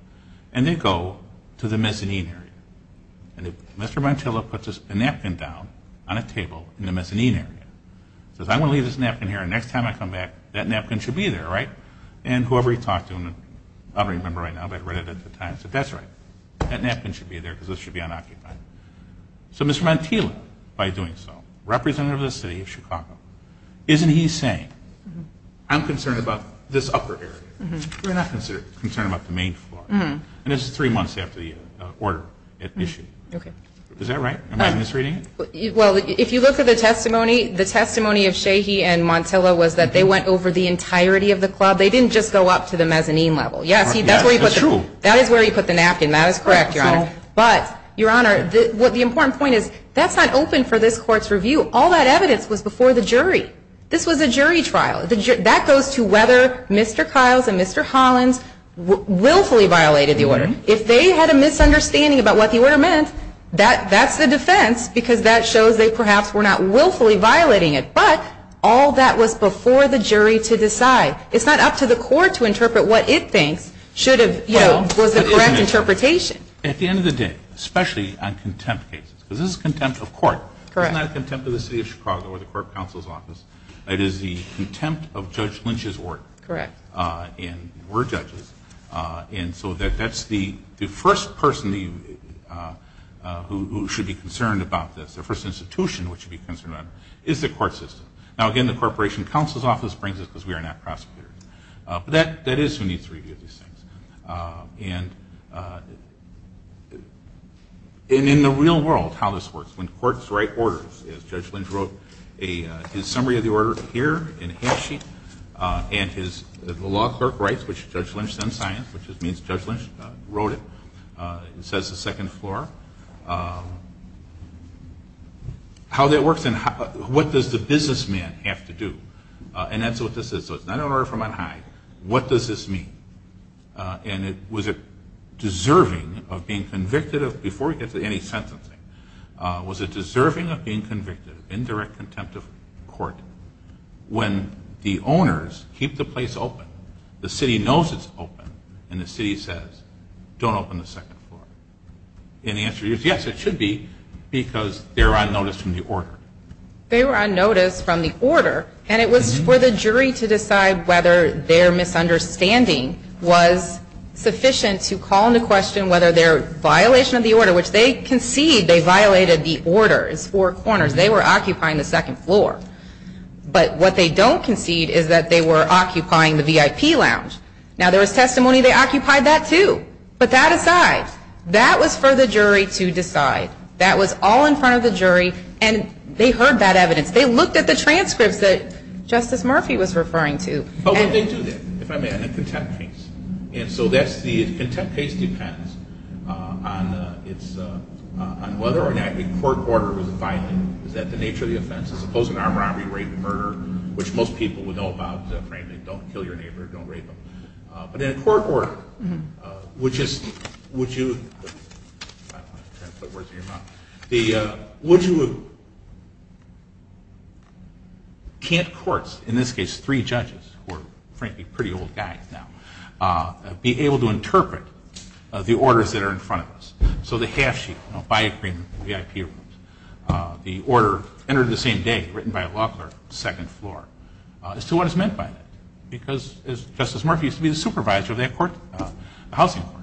and they go to the mezzanine area. And Mr. Montilla puts a napkin down on a table in the mezzanine area. He says I'm going to leave this napkin here and the next time I come back that napkin should be there, right? And whoever he talked to, I don't remember right now, but I read it at the time, said that's right. That napkin should be there because this should be unoccupied. So Mr. Montilla, by doing so, representative of the city of Chicago, isn't he saying I'm concerned about this upper area. We're not concerned about the main floor. And this is three months after the order is issued. Is that right? Am I misreading it? Well, if you look at the testimony, the testimony of Chaly and Montilla was that they went over the entirety of the club. They didn't just go up to the mezzanine level. That is where you put the napkin. That is correct, Your Honor. But, Your Honor, the important point is that's not open for this court's review. All that evidence was before the jury. This was a jury trial. That goes to whether Mr. Kiles and Mr. Hollins willfully violated the order. If they had a misunderstanding about what the order meant, that's a defense because that shows they perhaps were not willfully violating it. But all that was before the jury to decide. It's not up to the court to interpret what it thinks was the correct interpretation. At the end of the day, especially on contempt cases, because this is contempt of court. It's not contempt of the city of Chicago or the court counsel's office. It is the contempt of Judge Lynch's order. Correct. And we're judges. And so that's the first person who should be concerned about this, the first institution that should be concerned about this, is the court system. Now, again, the corporation counsel's office brings this because we are not prosecutors. But that is who needs to review these things. And in the real world, how this works, when courts write orders, as Judge Lynch wrote his summary of the order here in a handsheet, and the law clerk writes, which Judge Lynch then signs, which just means Judge Lynch wrote it and says the second floor, how that works and what does the businessman have to do. And that's what this is. So it's not an order from on high. What does this mean? And was it deserving of being convicted of, before we get to any sentencing, was it deserving of being convicted in direct contempt of court when the owners keep the place open, the city knows it's open, and the city says, don't open the second floor. And the answer is, yes, it should be, because they're on notice from the order. They were on notice from the order. And it was for the jury to decide whether their misunderstanding was sufficient to call into question whether their violation of the order, which they concede they violated the order. It's four corners. They were occupying the second floor. But what they don't concede is that they were occupying the VIP lounge. Now, there was testimony they occupied that too. But that aside, that was for the jury to decide. That was all in front of the jury. And they heard that evidence. They looked at the transcripts that Justice Murphy was referring to. Oh, well, they do that. I mean, I think contempt case. And so the contempt case depends on whether or not the court order was violent, that the nature of the offense is a closed-arm robbery, rape, and murder, which most people would know about. Don't kill your neighbor. Don't rape them. But in a court order, which is, would you, can't courts, in this case three judges, who are frankly pretty old guys now, be able to interpret the orders that are in front of us? So the half-sheet, a by-agreement, the VIP room, the order entered the same day, written by a law clerk, second floor. So what is meant by that? Because, as Justice Murphy used to be the supervisor of that court, the housing court,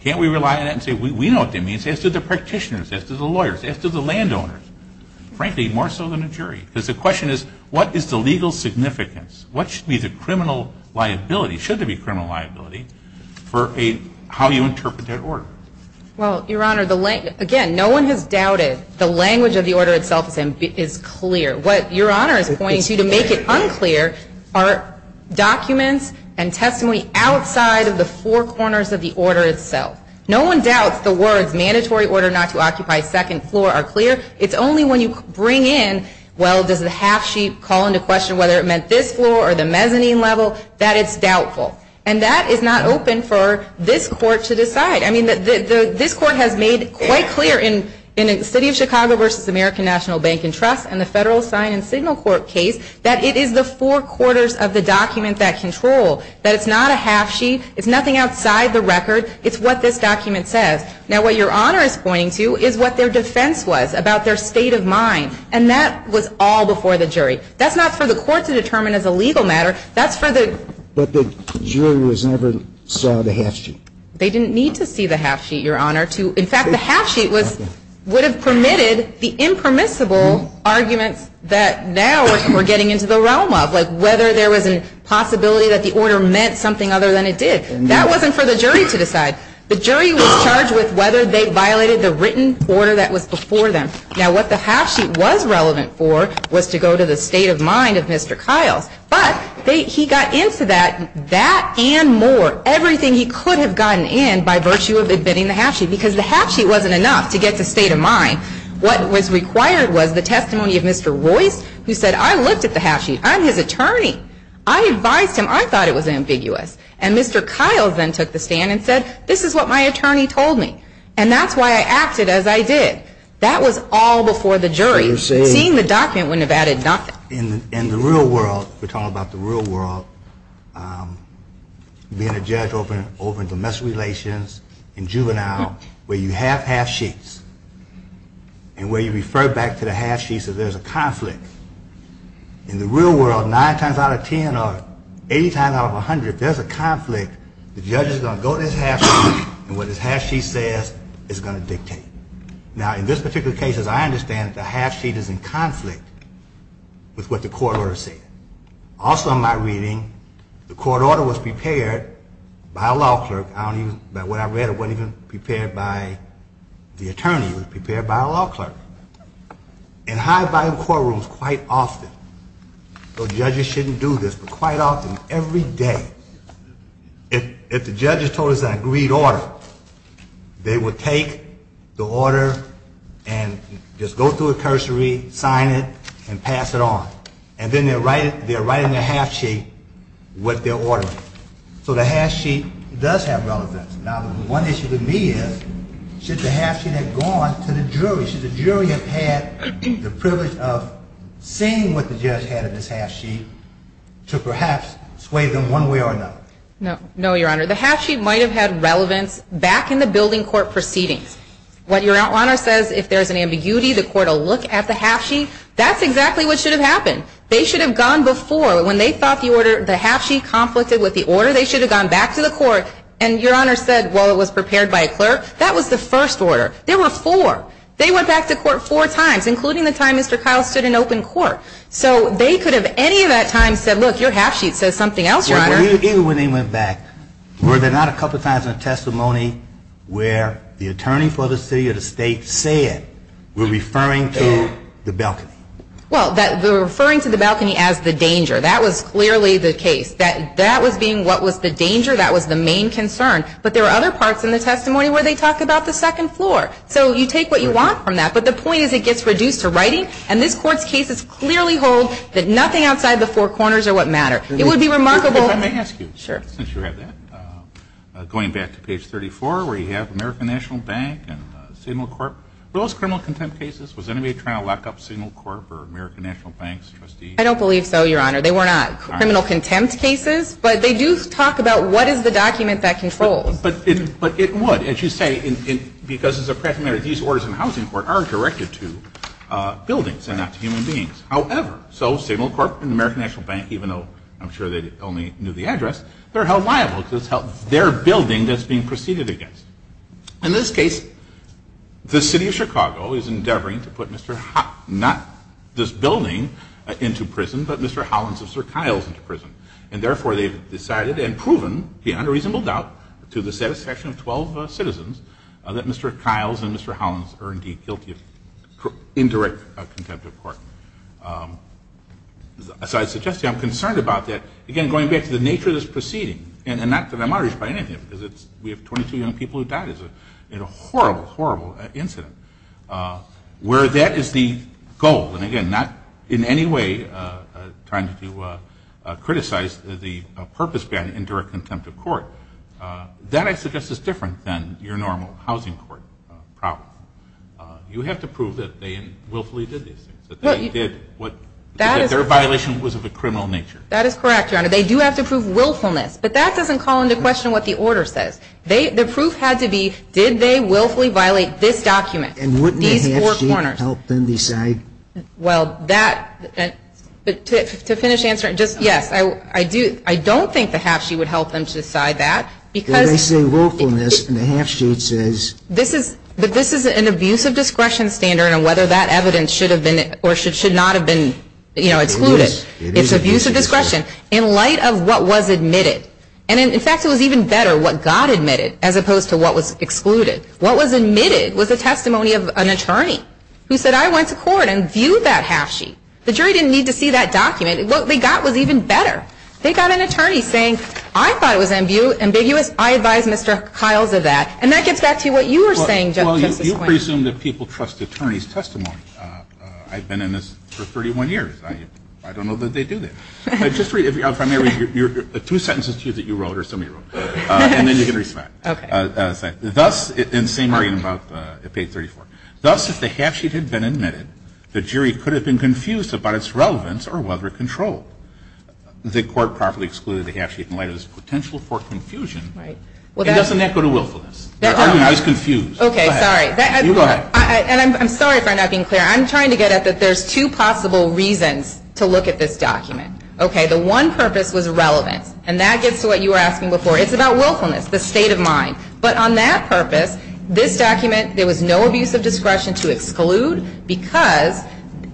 can't we rely on that and say, we know what that means, as do the practitioners, as do the lawyers, as do the landowners? Frankly, more so than the jury. Because the question is, what is the legal significance? What should be the criminal liability, should there be criminal liability, for how you interpret that order? Well, Your Honor, again, no one has doubted the language of the order itself is clear. What Your Honor is pointing to, to make it unclear, are documents and testimony outside of the four corners of the order itself. No one doubts the words, mandatory order not to occupy second floor, are clear. It's only when you bring in, well, does the half-sheet call into question whether it meant this floor or the mezzanine level, that it's doubtful. And that is not open for this court to decide. I mean, this court has made it quite clear in the City of Chicago versus American National Bank and Trust and the Federal Sign and Signal Court case, that it is the four corners of the document that control. That it's not a half-sheet. It's nothing outside the record. It's what this document says. Now, what Your Honor is pointing to is what their defense was about their state of mind. And that was all before the jury. That's not for the court to determine as a legal matter. That's for the... But the jury never saw the half-sheet. They didn't need to see the half-sheet, Your Honor. In fact, the half-sheet would have permitted the impermissible argument that now we're getting into the realm of. Whether there was a possibility that the order meant something other than it did. That wasn't for the jury to decide. The jury was charged with whether they violated the written order that was before them. Now, what the half-sheet was relevant for was to go to the state of mind of Mr. Kyle. But he got into that and more. Everything he could have gotten in by virtue of admitting the half-sheet. Because the half-sheet wasn't enough to get the state of mind. What was required was the testimony of Mr. Royce. He said, I looked at the half-sheet. I'm his attorney. I advised him. I thought it was ambiguous. And Mr. Kyle then took the stand and said, this is what my attorney told me. And that's why I acted as I did. That was all before the jury. Seeing the document wouldn't have added nothing. In the real world, we're talking about the real world, being a judge over in domestic relations, in juvenile, where you have half-sheets and where you refer back to the half-sheets that there's a conflict. In the real world, nine times out of ten or 80 times out of 100, there's a conflict. The judge is going to go to his half-sheet and what his half-sheet says is going to dictate. Now, in this particular case, as I understand it, the half-sheet is in conflict with what the court orders say. Also, in my reading, the court order was prepared by a law clerk. What I read, it wasn't even prepared by the attorney. It was prepared by a law clerk. In high-value courtrooms, quite often, though judges shouldn't do this, but quite often, every day, if the judge has told us an agreed order, they would take the order and just go through a cursory, sign it, and pass it on. And then they're writing the half-sheet with their order. So the half-sheet does have relevance. Now, the one issue with me is, should the half-sheet have gone to the jury? Should the jury have had the privilege of seeing what the judge had in this half-sheet to perhaps sway them one way or another? No, Your Honor. The half-sheet might have had relevance back in the building court proceedings. What Your Honor says, if there's an ambiguity, the court will look at the half-sheet. That's exactly what should have happened. They should have gone before. When they thought the order, the half-sheet, conflicted with the order, they should have gone back to the court, and Your Honor said, well, it was prepared by a clerk. That was the first order. There were four. They went back to court four times, including the time Mr. Kyle stood in open court. So they could have any of that time said, look, your half-sheet says something else, Your Honor. What did they do when they went back? Were there not a couple times in the testimony where the attorney for the city or the state said, we're referring to the balcony? Well, they're referring to the balcony as the danger. That was clearly the case. That was being what was the danger. That was the main concern. But there were other parts in the testimony where they talked about the second floor. So you take what you want from that, but the point is it gets reduced to writing, and this court's cases clearly hold that nothing outside the four corners are what matters. It would be remarkable. Going back to page 34 where you have American National Bank and Signal Corp. Were those criminal contempt cases? Was anybody trying to lock up Signal Corp. or American National Bank's trustees? I don't believe so, Your Honor. They were not criminal contempt cases, but they do talk about what is the document that controls. But it would. And she's saying because it's a fact that these orders in the housing court aren't directed to buildings and not to human beings. However, so Signal Corp. and American National Bank, even though I'm sure they only knew the address, they're held liable because it's their building that's being proceeded against. In this case, the city of Chicago is endeavoring to put Mr. Holland, not this building, into prison, but Mr. Holland's and Sir Kyle's into prison. And therefore, they've decided and proven beyond a reasonable doubt to the satisfaction of 12 citizens that Mr. Kyle's and Mr. Holland's are indeed guilty of indirect contempt of court. As I suggested, I'm concerned about that. Again, going back to the nature of this proceeding, and not that I'm outraged by anything, because we have 22 young people who died in a horrible, horrible incident, where that is the goal. And again, not in any way trying to criticize the purpose behind indirect contempt of court. That, I suggest, is different than your normal housing court problem. You have to prove that they willfully did it, that their violation was of a criminal nature. That is correct, Your Honor. They do have to prove willfulness. But that doesn't call into question what the order says. The proof had to be, did they willfully violate this document, these four corners? And wouldn't a half-sheet help them decide? Well, to finish answering, yes. I don't think the half-sheet would help them decide that. They say willfulness, and the half-sheet says? This is an abuse of discretion standard on whether that evidence should have been or should not have been included. It's abuse of discretion. In light of what was admitted. And, in fact, it was even better what got admitted, as opposed to what was excluded. What was admitted was a testimony of an attorney who said, I went to court and viewed that half-sheet. The jury didn't need to see that document. What they got was even better. They got an attorney saying, I thought it was ambiguous. I advise Mr. Hiles of that. And that gets back to what you were saying just a moment ago. Well, you presume that people trust attorney's testimony. I've been in this for 31 years. I don't know that they do that. Just read, if I may, two sentences to you that you wrote or somebody wrote. And then you can reflect. Okay. Thus, and same reading about page 34. Thus, if the half-sheet had been admitted, the jury could have been confused about its relevance or whether it controlled. The court properly excluded the half-sheet in light of its potential for confusion. Right. It doesn't have to go to willfulness. I was confused. Okay. Sorry. Go ahead. I'm sorry for not being clear. I'm trying to get at that there's two possible reasons to look at this document. Okay. The one purpose was relevant. And that gets to what you were asking before. It's about willfulness, the state of mind. But on that purpose, this document, there was no abuse of discretion to exclude, because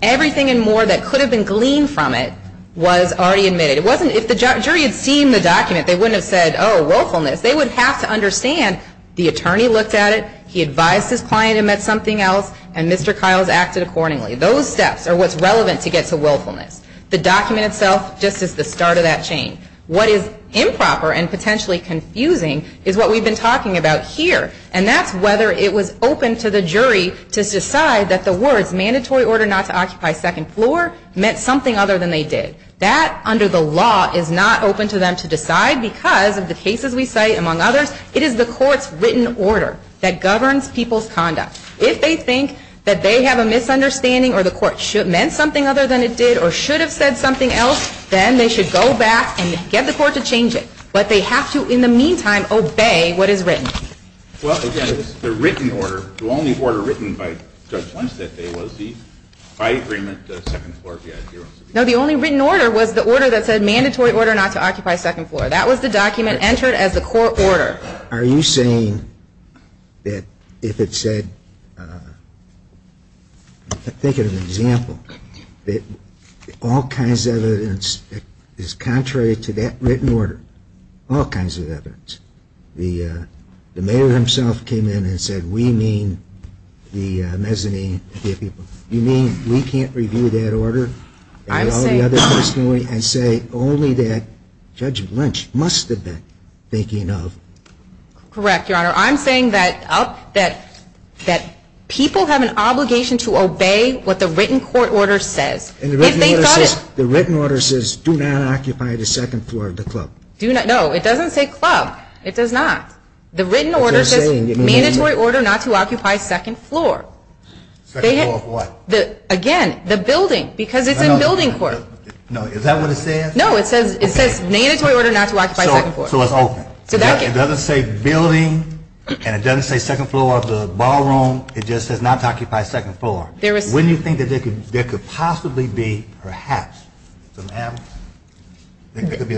everything and more that could have been gleaned from it was already admitted. If the jury had seen the document, they wouldn't have said, oh, willfulness. They would have to understand the attorney looked at it, he advised his client it meant something else, and Mr. Kiles acted accordingly. Those steps are what's relevant to get to willfulness. The document itself just is the start of that change. What is improper and potentially confusing is what we've been talking about here, and that's whether it was open to the jury to decide that the words mandatory order not to occupy second floor meant something other than they did. That, under the law, is not open to them to decide because, in the cases we cite, among others, it is the court's written order that governs people's conduct. If they think that they have a misunderstanding or the court meant something other than it did or should have said something else, then they should go back and get the court to change it. But they have to, in the meantime, obey what is written. Well, again, it's the written order. The only order written by Judge Lundstedt was the by-agreement to second floor VIP room. No, the only written order was the order that said mandatory order not to occupy second floor. That was the document entered as a court order. Are you saying that if it said, I'm thinking of an example, that all kinds of evidence is contrary to that written order, all kinds of evidence, the mayor himself came in and said, we mean the mezzanine VIP room. You mean we can't review that order by all the other testimony and say only that Judge Lundstedt must have been thinking of? Correct, Your Honor. I'm saying that people have an obligation to obey what the written court order says. The written order says do not occupy the second floor of the club. No, it doesn't say club. It does not. The written order says mandatory order not to occupy second floor. Second floor of what? Again, the building, because it's a building court. No, is that what it says? No, it says mandatory order not to occupy second floor. So it's open. It doesn't say building, and it doesn't say second floor of the ballroom. It just says not to occupy second floor. Wouldn't you think that there could possibly be, perhaps, a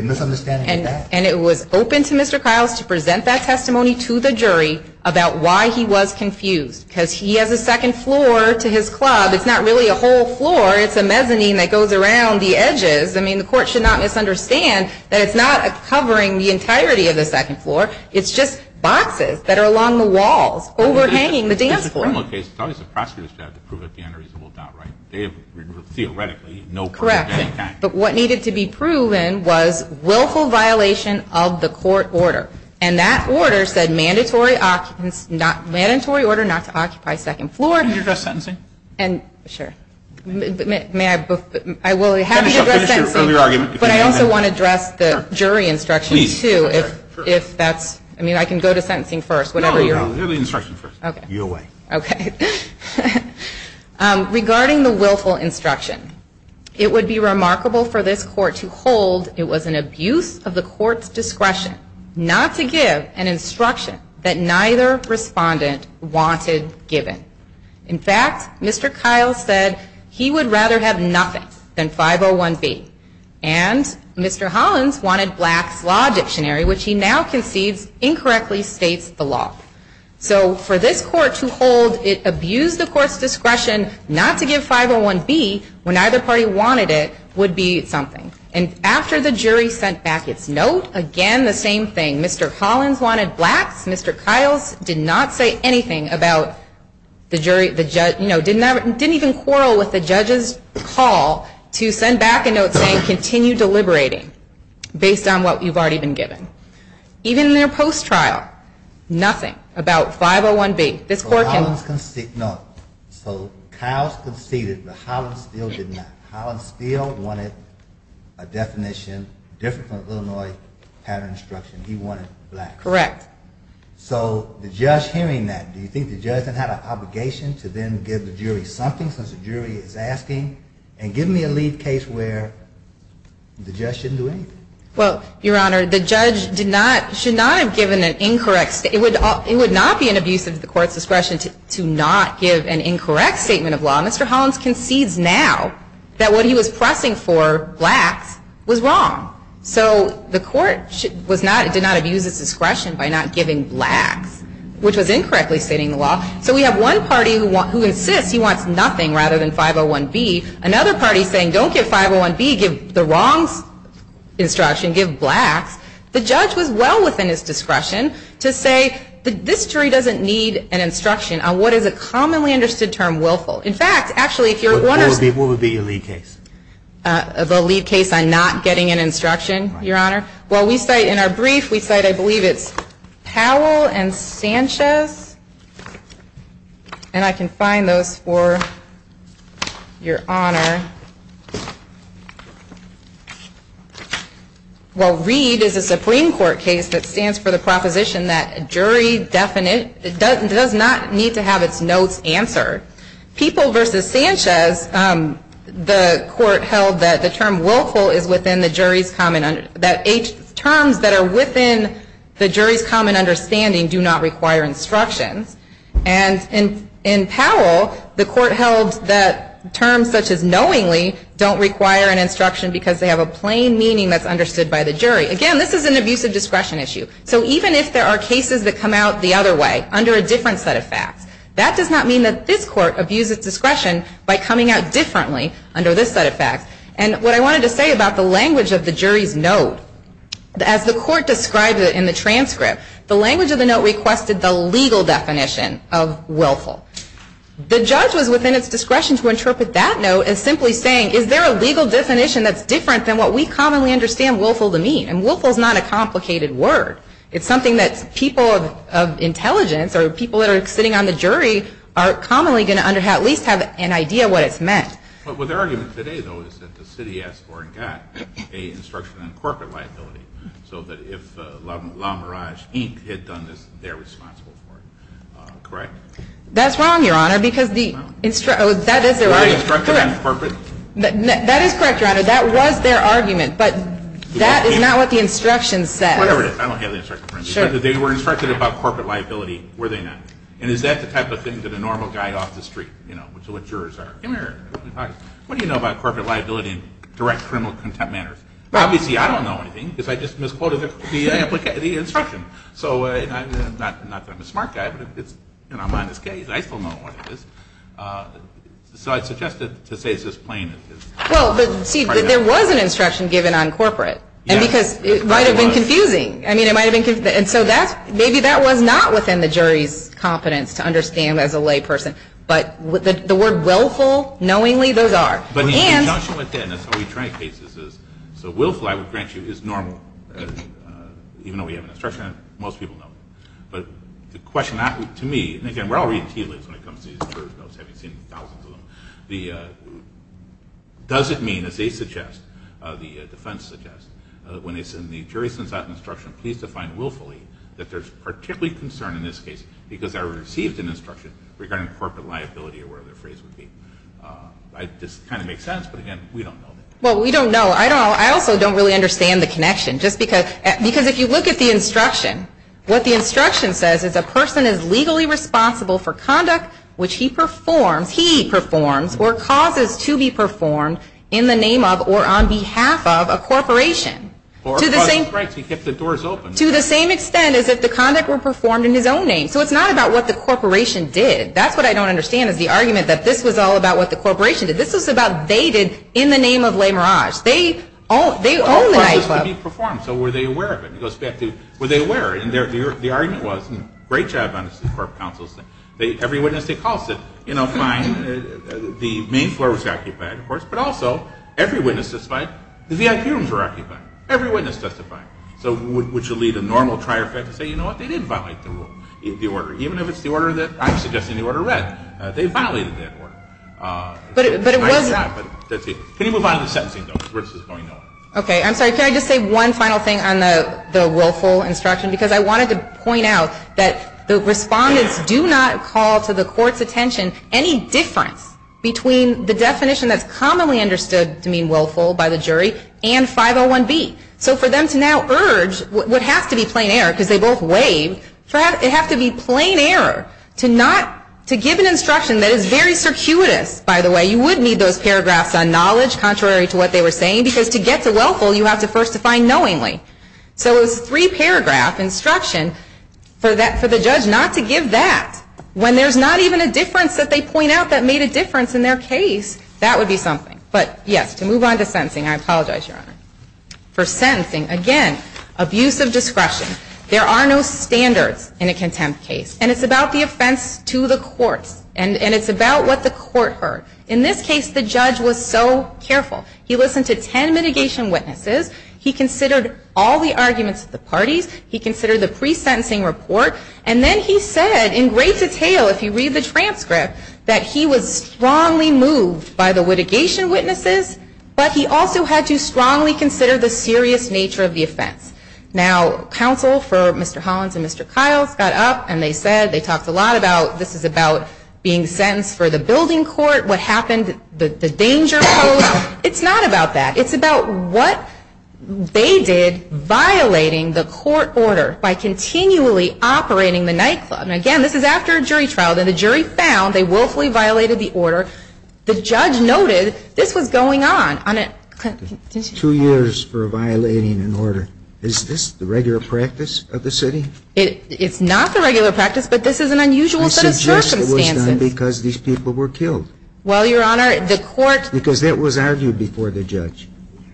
misunderstanding of that? And it was open to Mr. Kiles to present that testimony to the jury about why he was confused. Because he has a second floor to his club. It's not really a whole floor. It's a mezzanine that goes around the edges. I mean, the court should not misunderstand that it's not covering the entirety of the second floor. It's just boxes that are along the walls overhanging the dance floor. It's probably the prosecutor's job to prove that the answer is told outright. Theoretically, no proof. Correct. But what needed to be proven was willful violation of the court order. And that order said mandatory order not to occupy second floor. Can you address sentencing? Sure. May I? I will have you address sentencing. But I also want to address the jury instruction, too. I mean, I can go to sentencing first, whatever you want. No, you can go to the instruction first. You go away. Okay. Regarding the willful instruction, it would be remarkable for this court to hold it was an abuse of the court's discretion not to give an instruction that neither respondent wanted given. In fact, Mr. Kyle said he would rather have nothing than 501B. And Mr. Hollins wanted Black's Law Dictionary, which he now perceives incorrectly states the law. So for this court to hold it abused the court's discretion not to give 501B when neither party wanted it would be something. And after the jury sent back its note, again, the same thing. Mr. Hollins wanted Black's. Mr. Kyle did not say anything about the jury. He didn't even quarrel with the judge's call to send back a note saying continue deliberating based on what you've already been given. Even in their post-trial, nothing about 501B. No. So Kyle conceded, but Hollins still did not. Hollins still wanted a definition different from Illinois' pattern instruction. He wanted Black. Correct. So the judge hearing that, do you think the judge had an obligation to then give the jury something because the jury is asking? And give me a lead case where the judge shouldn't do anything. Well, Your Honor, the judge should not have given an incorrect statement. It would not be an abuse of the court's discretion to not give an incorrect statement of law. Mr. Hollins concedes now that what he was pressing for, Black, was wrong. So the court did not abuse its discretion by not giving Black, which was incorrectly fitting the law. So we have one party who insists he wants nothing rather than 501B. Another party saying don't give 501B, give the wrong instruction, give Black. The judge was well within his discretion to say this jury doesn't need an instruction on what is a commonly understood term, willful. In fact, actually, if you're going to 501B, what would be your lead case? The lead case on not getting an instruction, Your Honor. Well, we cite in our brief, we cite, I believe it's Powell and Sanchez, and I can find those for Your Honor. Well, READ is a Supreme Court case that stands for the proposition that a jury does not need to have its notes answered. People v. Sanchez, the court held that the term willful is within the jury's common, that terms that are within the jury's common understanding do not require instruction. And in Powell, the court held that terms such as knowingly don't require an instruction because they have a plain meaning that's understood by the jury. Again, this is an abuse of discretion issue. So even if there are cases that come out the other way, under a different set of facts, that does not mean that this court abuses discretion by coming out differently under this set of facts. And what I wanted to say about the language of the jury's note, as the court described it in the transcript, the language of the note requested the legal definition of willful. The judge was within its discretion to interpret that note as simply saying, is there a legal definition that's different than what we commonly understand willful to mean? And willful is not a complicated word. It's something that people of intelligence or people that are sitting on the jury are commonly going to at least have an idea of what it's meant. Well, their argument today, though, is that the city asked for and got an instruction on corporate liability. So that if La Mirage Inc. had done this, they're responsible for it. Correct? That's wrong, Your Honor, because the... Was I instructed on corporate? That is correct, Your Honor. That was their argument. But that is not what the instruction said. Whatever it is, I don't have the instruction. Because if they were instructed about corporate liability, were they not? And is that the type of thing that a normal guy off the street, you know, What do you know about corporate liability in a direct criminal contempt manner? Obviously, I don't know anything, because I just misquoted the instruction. So I'm not a smart guy, but, you know, I'm on this case. I don't know what it is. So I suggested to say it's just plain... Well, see, there was an instruction given on corporate. And because it might have been confusing. I mean, it might have been confusing. And so maybe that was not within the jury's competence to understand as a layperson. But the word willful, knowingly, those are. And... But the induction within us on attorney cases is, so willful, I would grant you, is normal. Even though we have an instruction, most people don't. But the question asked to me, and again, we're all retailers when it comes to these jurors. I was having seen thousands of them. Does it mean, as they suggest, the defense suggests, when it's in the jury's consent instruction, please define willfully, that there's particularly concern in this case, because I received an instruction regarding corporate liability or whatever the phrase would be. This kind of makes sense, but again, we don't know that. Well, we don't know. I don't know. I also don't really understand the connection. Just because... Because if you look at the instruction, what the instruction says is, a person is legally responsible for conduct which he performs, he performs, or causes to be performed in the name of or on behalf of a corporation. To the same... Right, so you get the doors open. To the same extent as if the conduct were performed in his own name. So it's not about what the corporation did. That's what I don't understand is the argument that this was all about what the corporation did. This was about they did in the name of Les Mirage. They own the nightclub. They performed, so were they aware of it? Were they aware? And the argument was, great job on this court of counsel. Every witness, they called it. You know, fine, the main floor was occupied, of course, but also, every witness testified, the VIP rooms were occupied. Every witness testified. So would you leave a normal trier effect and say, you know what, they did violate the rule, the order, even if it's the order that I'm suggesting the order read. They violated that order. But it was not... Can you move on to sentencing, though, where this is going now? Okay, I'm sorry. Can I just say one final thing on the willful instruction? Because I wanted to point out that the respondents do not call to the court's attention any difference between the definition that's commonly understood to mean willful by the jury and 501B. So for them to now urge what has to be plain error, because they both waived, it has to be plain error to not... to give an instruction that is very circuitous, by the way. You would need those paragraphs on knowledge, contrary to what they were saying, because to get the willful, you have to first define knowingly. So three paragraphs instruction for the judge not to give that, when there's not even a difference that they point out that made a difference in their case. That would be something. But, yes, to move on to sentencing. I apologize, Your Honor. For sentencing, again, abuse of discretion. There are no standards in a contempt case. And it's about the offense to the court. And it's about what the court heard. In this case, the judge was so careful. He listened to ten mitigation witnesses. He considered all the arguments of the parties. He considered the pre-sentencing report. And then he said in great detail, if you read the transcript, that he was strongly moved by the litigation witnesses, but he also had to strongly consider the serious nature of the offense. Now, counsel for Mr. Hollins and Mr. Kyle got up and they said, they talked a lot about this is about being sentenced for the building court, what happened, the danger. It's not about that. It's about what they did violating the court order by continually operating the nightclub. And, again, this is after a jury trial. Then the jury found they willfully violated the order. The judge noted this was going on. Two years for violating an order. Is this the regular practice of the city? It's not the regular practice, but this is an unusual set of circumstances. I suggest it was done because these people were killed. Well, Your Honor, the court – Because it was argued before the judge.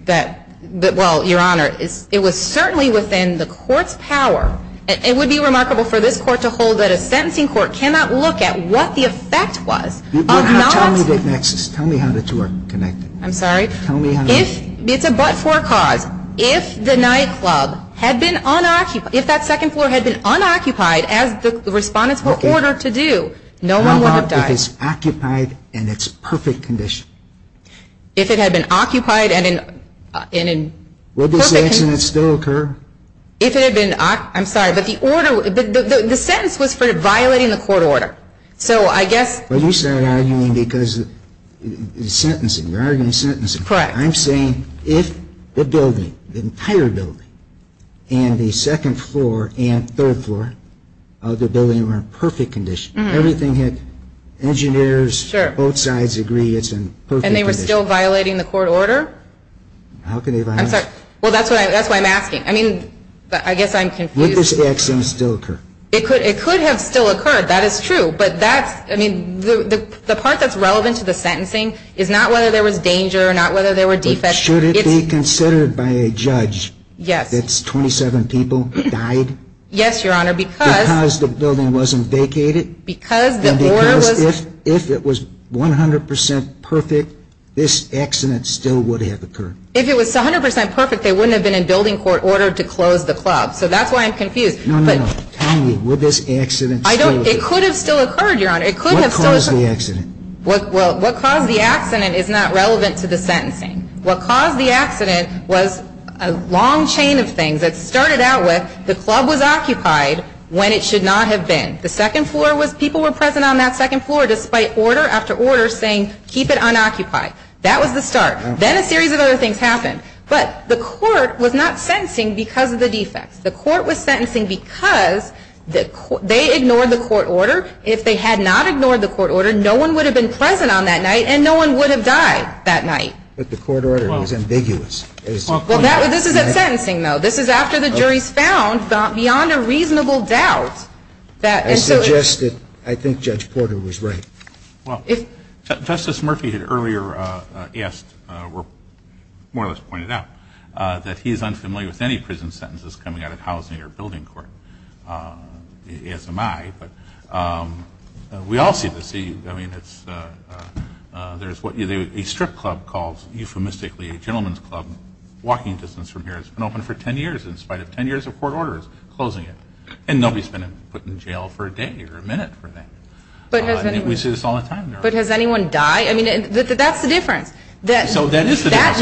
Well, Your Honor, it was certainly within the court's power. It would be remarkable for this court to hold that a sentencing court cannot look at what the effect was Tell me how the two are connected. I'm sorry? It's a but for a cause. If the nightclub had been unoccupied, if that second floor had been unoccupied, as the respondents were ordered to do, no one would have died. How about if it's occupied and it's perfect condition? If it had been occupied and in perfect condition. Would this sentence still occur? If it had been – I'm sorry, but the sentence was for violating the court order. So I guess – Well, you started arguing because it's sentencing. You're arguing sentencing. Correct. I'm saying if the building, the entire building, and the second floor and third floor of the building were in perfect condition, everything had – engineers, both sides agree it's in perfect condition. And they were still violating the court order? How could they violate it? I'm sorry. Well, that's what I'm asking. I mean, I guess I'm confused. Would this action still occur? It could have still occurred. That is true. But that's – I mean, the part that's relevant to the sentencing is not whether there was danger or not whether there were defects. Should it be considered by a judge that 27 people died? Yes, Your Honor, because – Because the building wasn't vacated? Because the order was – And because if it was 100% perfect, this accident still would have occurred? If it was 100% perfect, they wouldn't have been in building court order to close the club. So that's why I'm confused. No, no, no. Tell me, would this accident still occur? It could have still occurred, Your Honor. It could have still occurred. What caused the accident? Well, what caused the accident is not relevant to the sentencing. What caused the accident was a long chain of things. It started out with the club was occupied when it should not have been. The second floor was – people were present on that second floor despite order after order saying keep it unoccupied. That was the start. Then a series of other things happened. But the court was not sentencing because of the defects. The court was sentencing because they ignored the court order. If they had not ignored the court order, no one would have been present on that night and no one would have died that night. But the court order was ambiguous. Well, this is a sentencing, though. This is after the jury found beyond a reasonable doubt that – I suggest that I think Judge Porter was right. Well, Justice Murphy had earlier asked or more or less pointed out that he is unfamiliar with any prison sentences coming out of housing or building court, as am I. But we all seem to see – I mean, there's what a strip club calls euphemistically a gentleman's club. Walking distance from here has been open for 10 years in spite of 10 years of court orders closing it. And nobody's been put in jail for a day or a minute for that. I think we say this all the time now. But has anyone died? I mean, that's the difference. So that is the difference.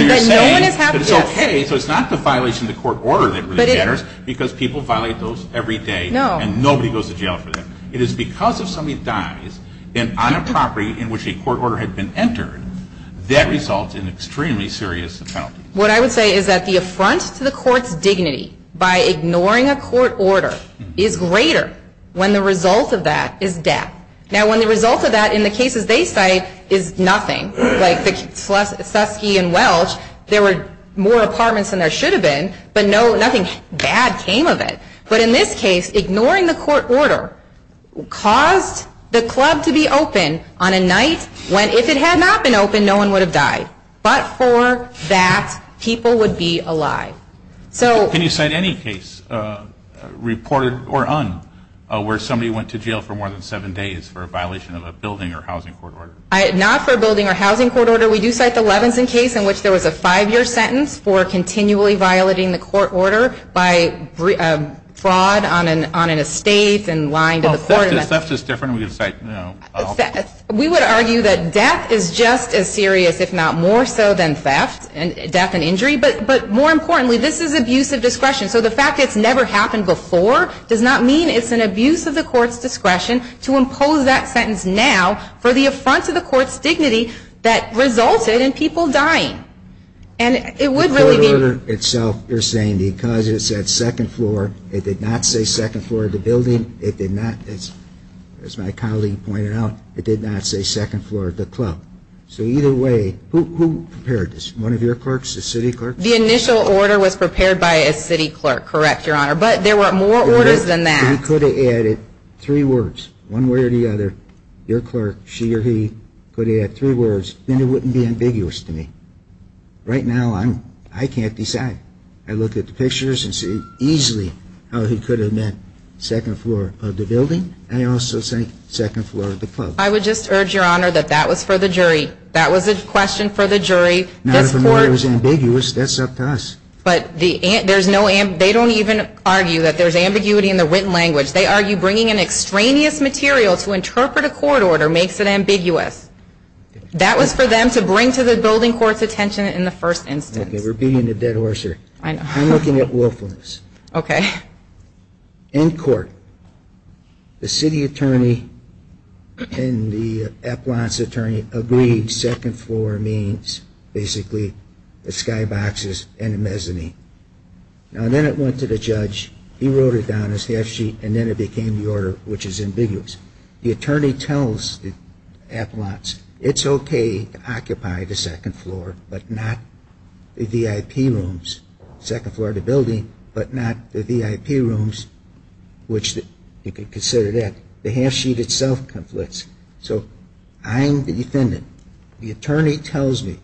So it's not the violation of the court order that really matters because people violate those every day and nobody goes to jail for that. It is because if somebody dies, then on a property in which a court order had been entered, that results in an extremely serious penalty. What I would say is that the affront to the court's dignity by ignoring a court order is greater when the result of that is death. Now, when the result of that, in the cases they cite, is nothing. Like Suskie and Welch, there were more apartments than there should have been, but nothing bad came of it. But in this case, ignoring the court order caused the club to be open on a night when if it had not been open, no one would have died. But for that, people would be alive. Can you cite any case, reported or un, where somebody went to jail for more than seven days for a violation of a building or housing court order? Not for a building or housing court order. We do cite the Levinson case in which there was a five-year sentence for continually violating the court order by fraud on an estate and lying to the court. Well, theft is different. We would argue that theft is just as serious, if not more so than theft and death and injury. But more importantly, this is abuse of discretion. So the fact that it's never happened before does not mean it's an abuse of the court's discretion to impose that sentence now for the affront to the court's dignity that resulted in people dying. The court order itself, you're saying, because it said second floor, it did not say second floor of the building. It did not, as my colleague pointed out, it did not say second floor of the club. So either way, who prepared this? One of your clerks, the city clerk? The initial order was prepared by a city clerk, correct, Your Honor. But there were more orders than that. If I could have added three words, one way or the other, your clerk, she or he, could have added three words, then it wouldn't be ambiguous to me. Right now, I can't decide. I look at the pictures and see easily how he could have meant second floor of the building. I also say second floor of the club. I would just urge, Your Honor, that that was for the jury. That was a question for the jury. Not if the word was ambiguous. That's up to us. They don't even argue that there's ambiguity in the written language. They argue bringing an extraneous material to interpret a court order makes it ambiguous. That was for them to bring to the building court's attention in the first instance. We're beating a dead horse here. I'm looking at lawfulness. Okay. In court, the city attorney and the appellant's attorney agreed second floor means basically the skyboxes and the mezzanine. Now, then it went to the judge. He wrote it down on a staff sheet, and then it became the order, which is ambiguous. The attorney tells the appellant, it's okay to occupy the second floor, but not the VIP rooms. Second floor of the building, but not the VIP rooms, which you could consider that. The half sheet itself conflicts. So I'm the defendant. The attorney tells me.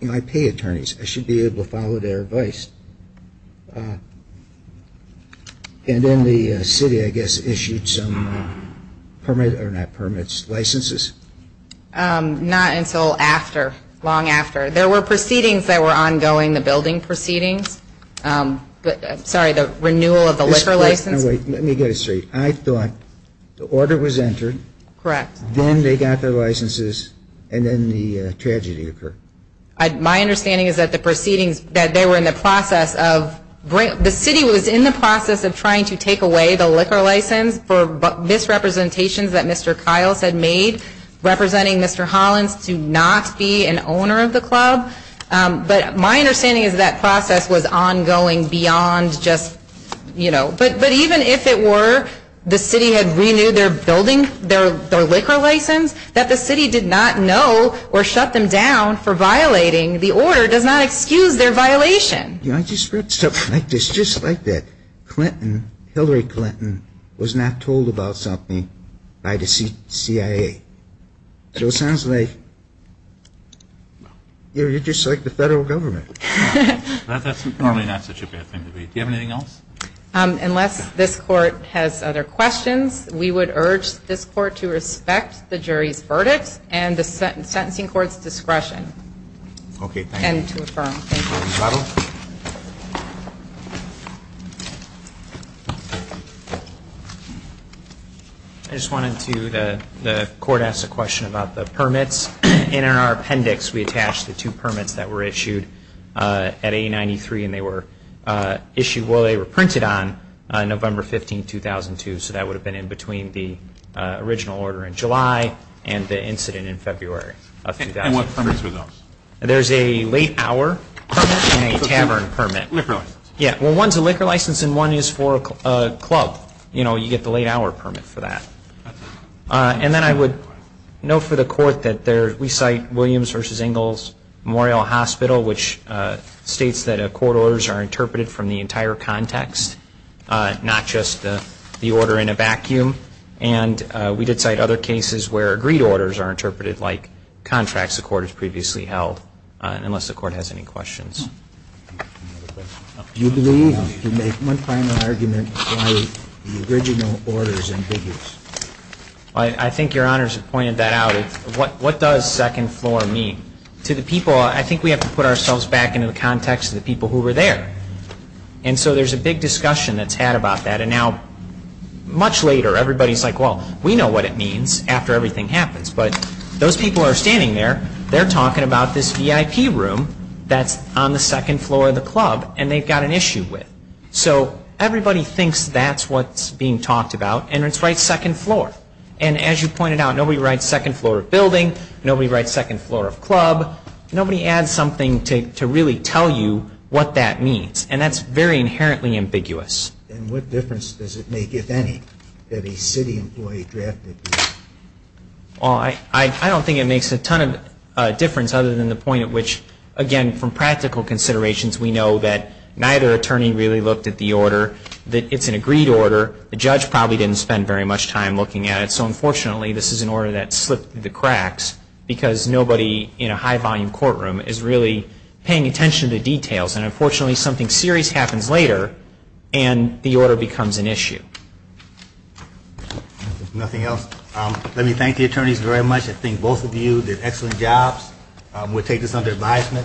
They might pay attorneys. I should be able to follow their advice. And then the city, I guess, issued some permit or not permits, licenses. Not until after, long after. There were proceedings that were ongoing, the building proceedings. Sorry, the renewal of the liquor license. Let me get this straight. I thought the order was entered. Correct. Then they got their licenses, and then the tragedy occurred. My understanding is that the proceedings, that they were in the process of, the city was in the process of trying to take away the liquor license for misrepresentations that Mr. Kyle had made, representing Mr. Hollins to not be an owner of the club. But my understanding is that process was ongoing beyond just, you know. But even if it were, the city had renewed their buildings, their liquor license, that the city did not know or shut them down for violating the order, does not excuse their violation. You know, I just read something like this, just like that. Clinton, Hillary Clinton, was not told about something by the CIA. So it sounds like, you know, you're just like the federal government. That's probably not such a bad thing to read. Do you have anything else? Unless this court has other questions, we would urge this court to respect the jury's verdict and the sentencing court's discretion. Okay. And to affirm. I just wanted to, the court asked a question about the permits, and in our appendix we attached the two permits that were issued at 893, and they were issued, well, they were printed on November 15, 2002. So that would have been in between the original order in July and the incident in February of 2000. And what comes with those? There's a late hour permit and a cavern permit. Yeah, well, one's a liquor license and one is for a club. You know, you get the late hour permit for that. And then I would note for the court that we cite Williams v. Ingalls Memorial Hospital, which states that court orders are interpreted from the entire context, not just the order in a vacuum. And we did cite other cases where agreed orders are interpreted like contracts the court has previously held, unless the court has any questions. I think your honors have pointed that out. What does second floor mean? To the people, I think we have to put ourselves back into the context of the people who were there. And so there's a big discussion that's had about that. And now, much later, everybody's like, well, we know what it means after everything happens. But those people are standing there. They're talking about this VIP room that's on the second floor of the club, and they've got an issue with it. So everybody thinks that's what's being talked about, and it's right second floor. And as you pointed out, nobody writes second floor of building. Nobody writes second floor of club. Nobody adds something to really tell you what that means. And that's very inherently ambiguous. I don't think it makes a ton of difference other than the point at which, again, from practical considerations, we know that neither attorney really looked at the order, that it's an agreed order. The judge probably didn't spend very much time looking at it. So unfortunately, this is an order that slipped through the cracks because nobody in a high-volume courtroom is really paying attention to details. And unfortunately, something serious happens later, and the order becomes an issue. If nothing else, let me thank the attorneys very much. I think both of you did excellent jobs. We'll take this under advisement.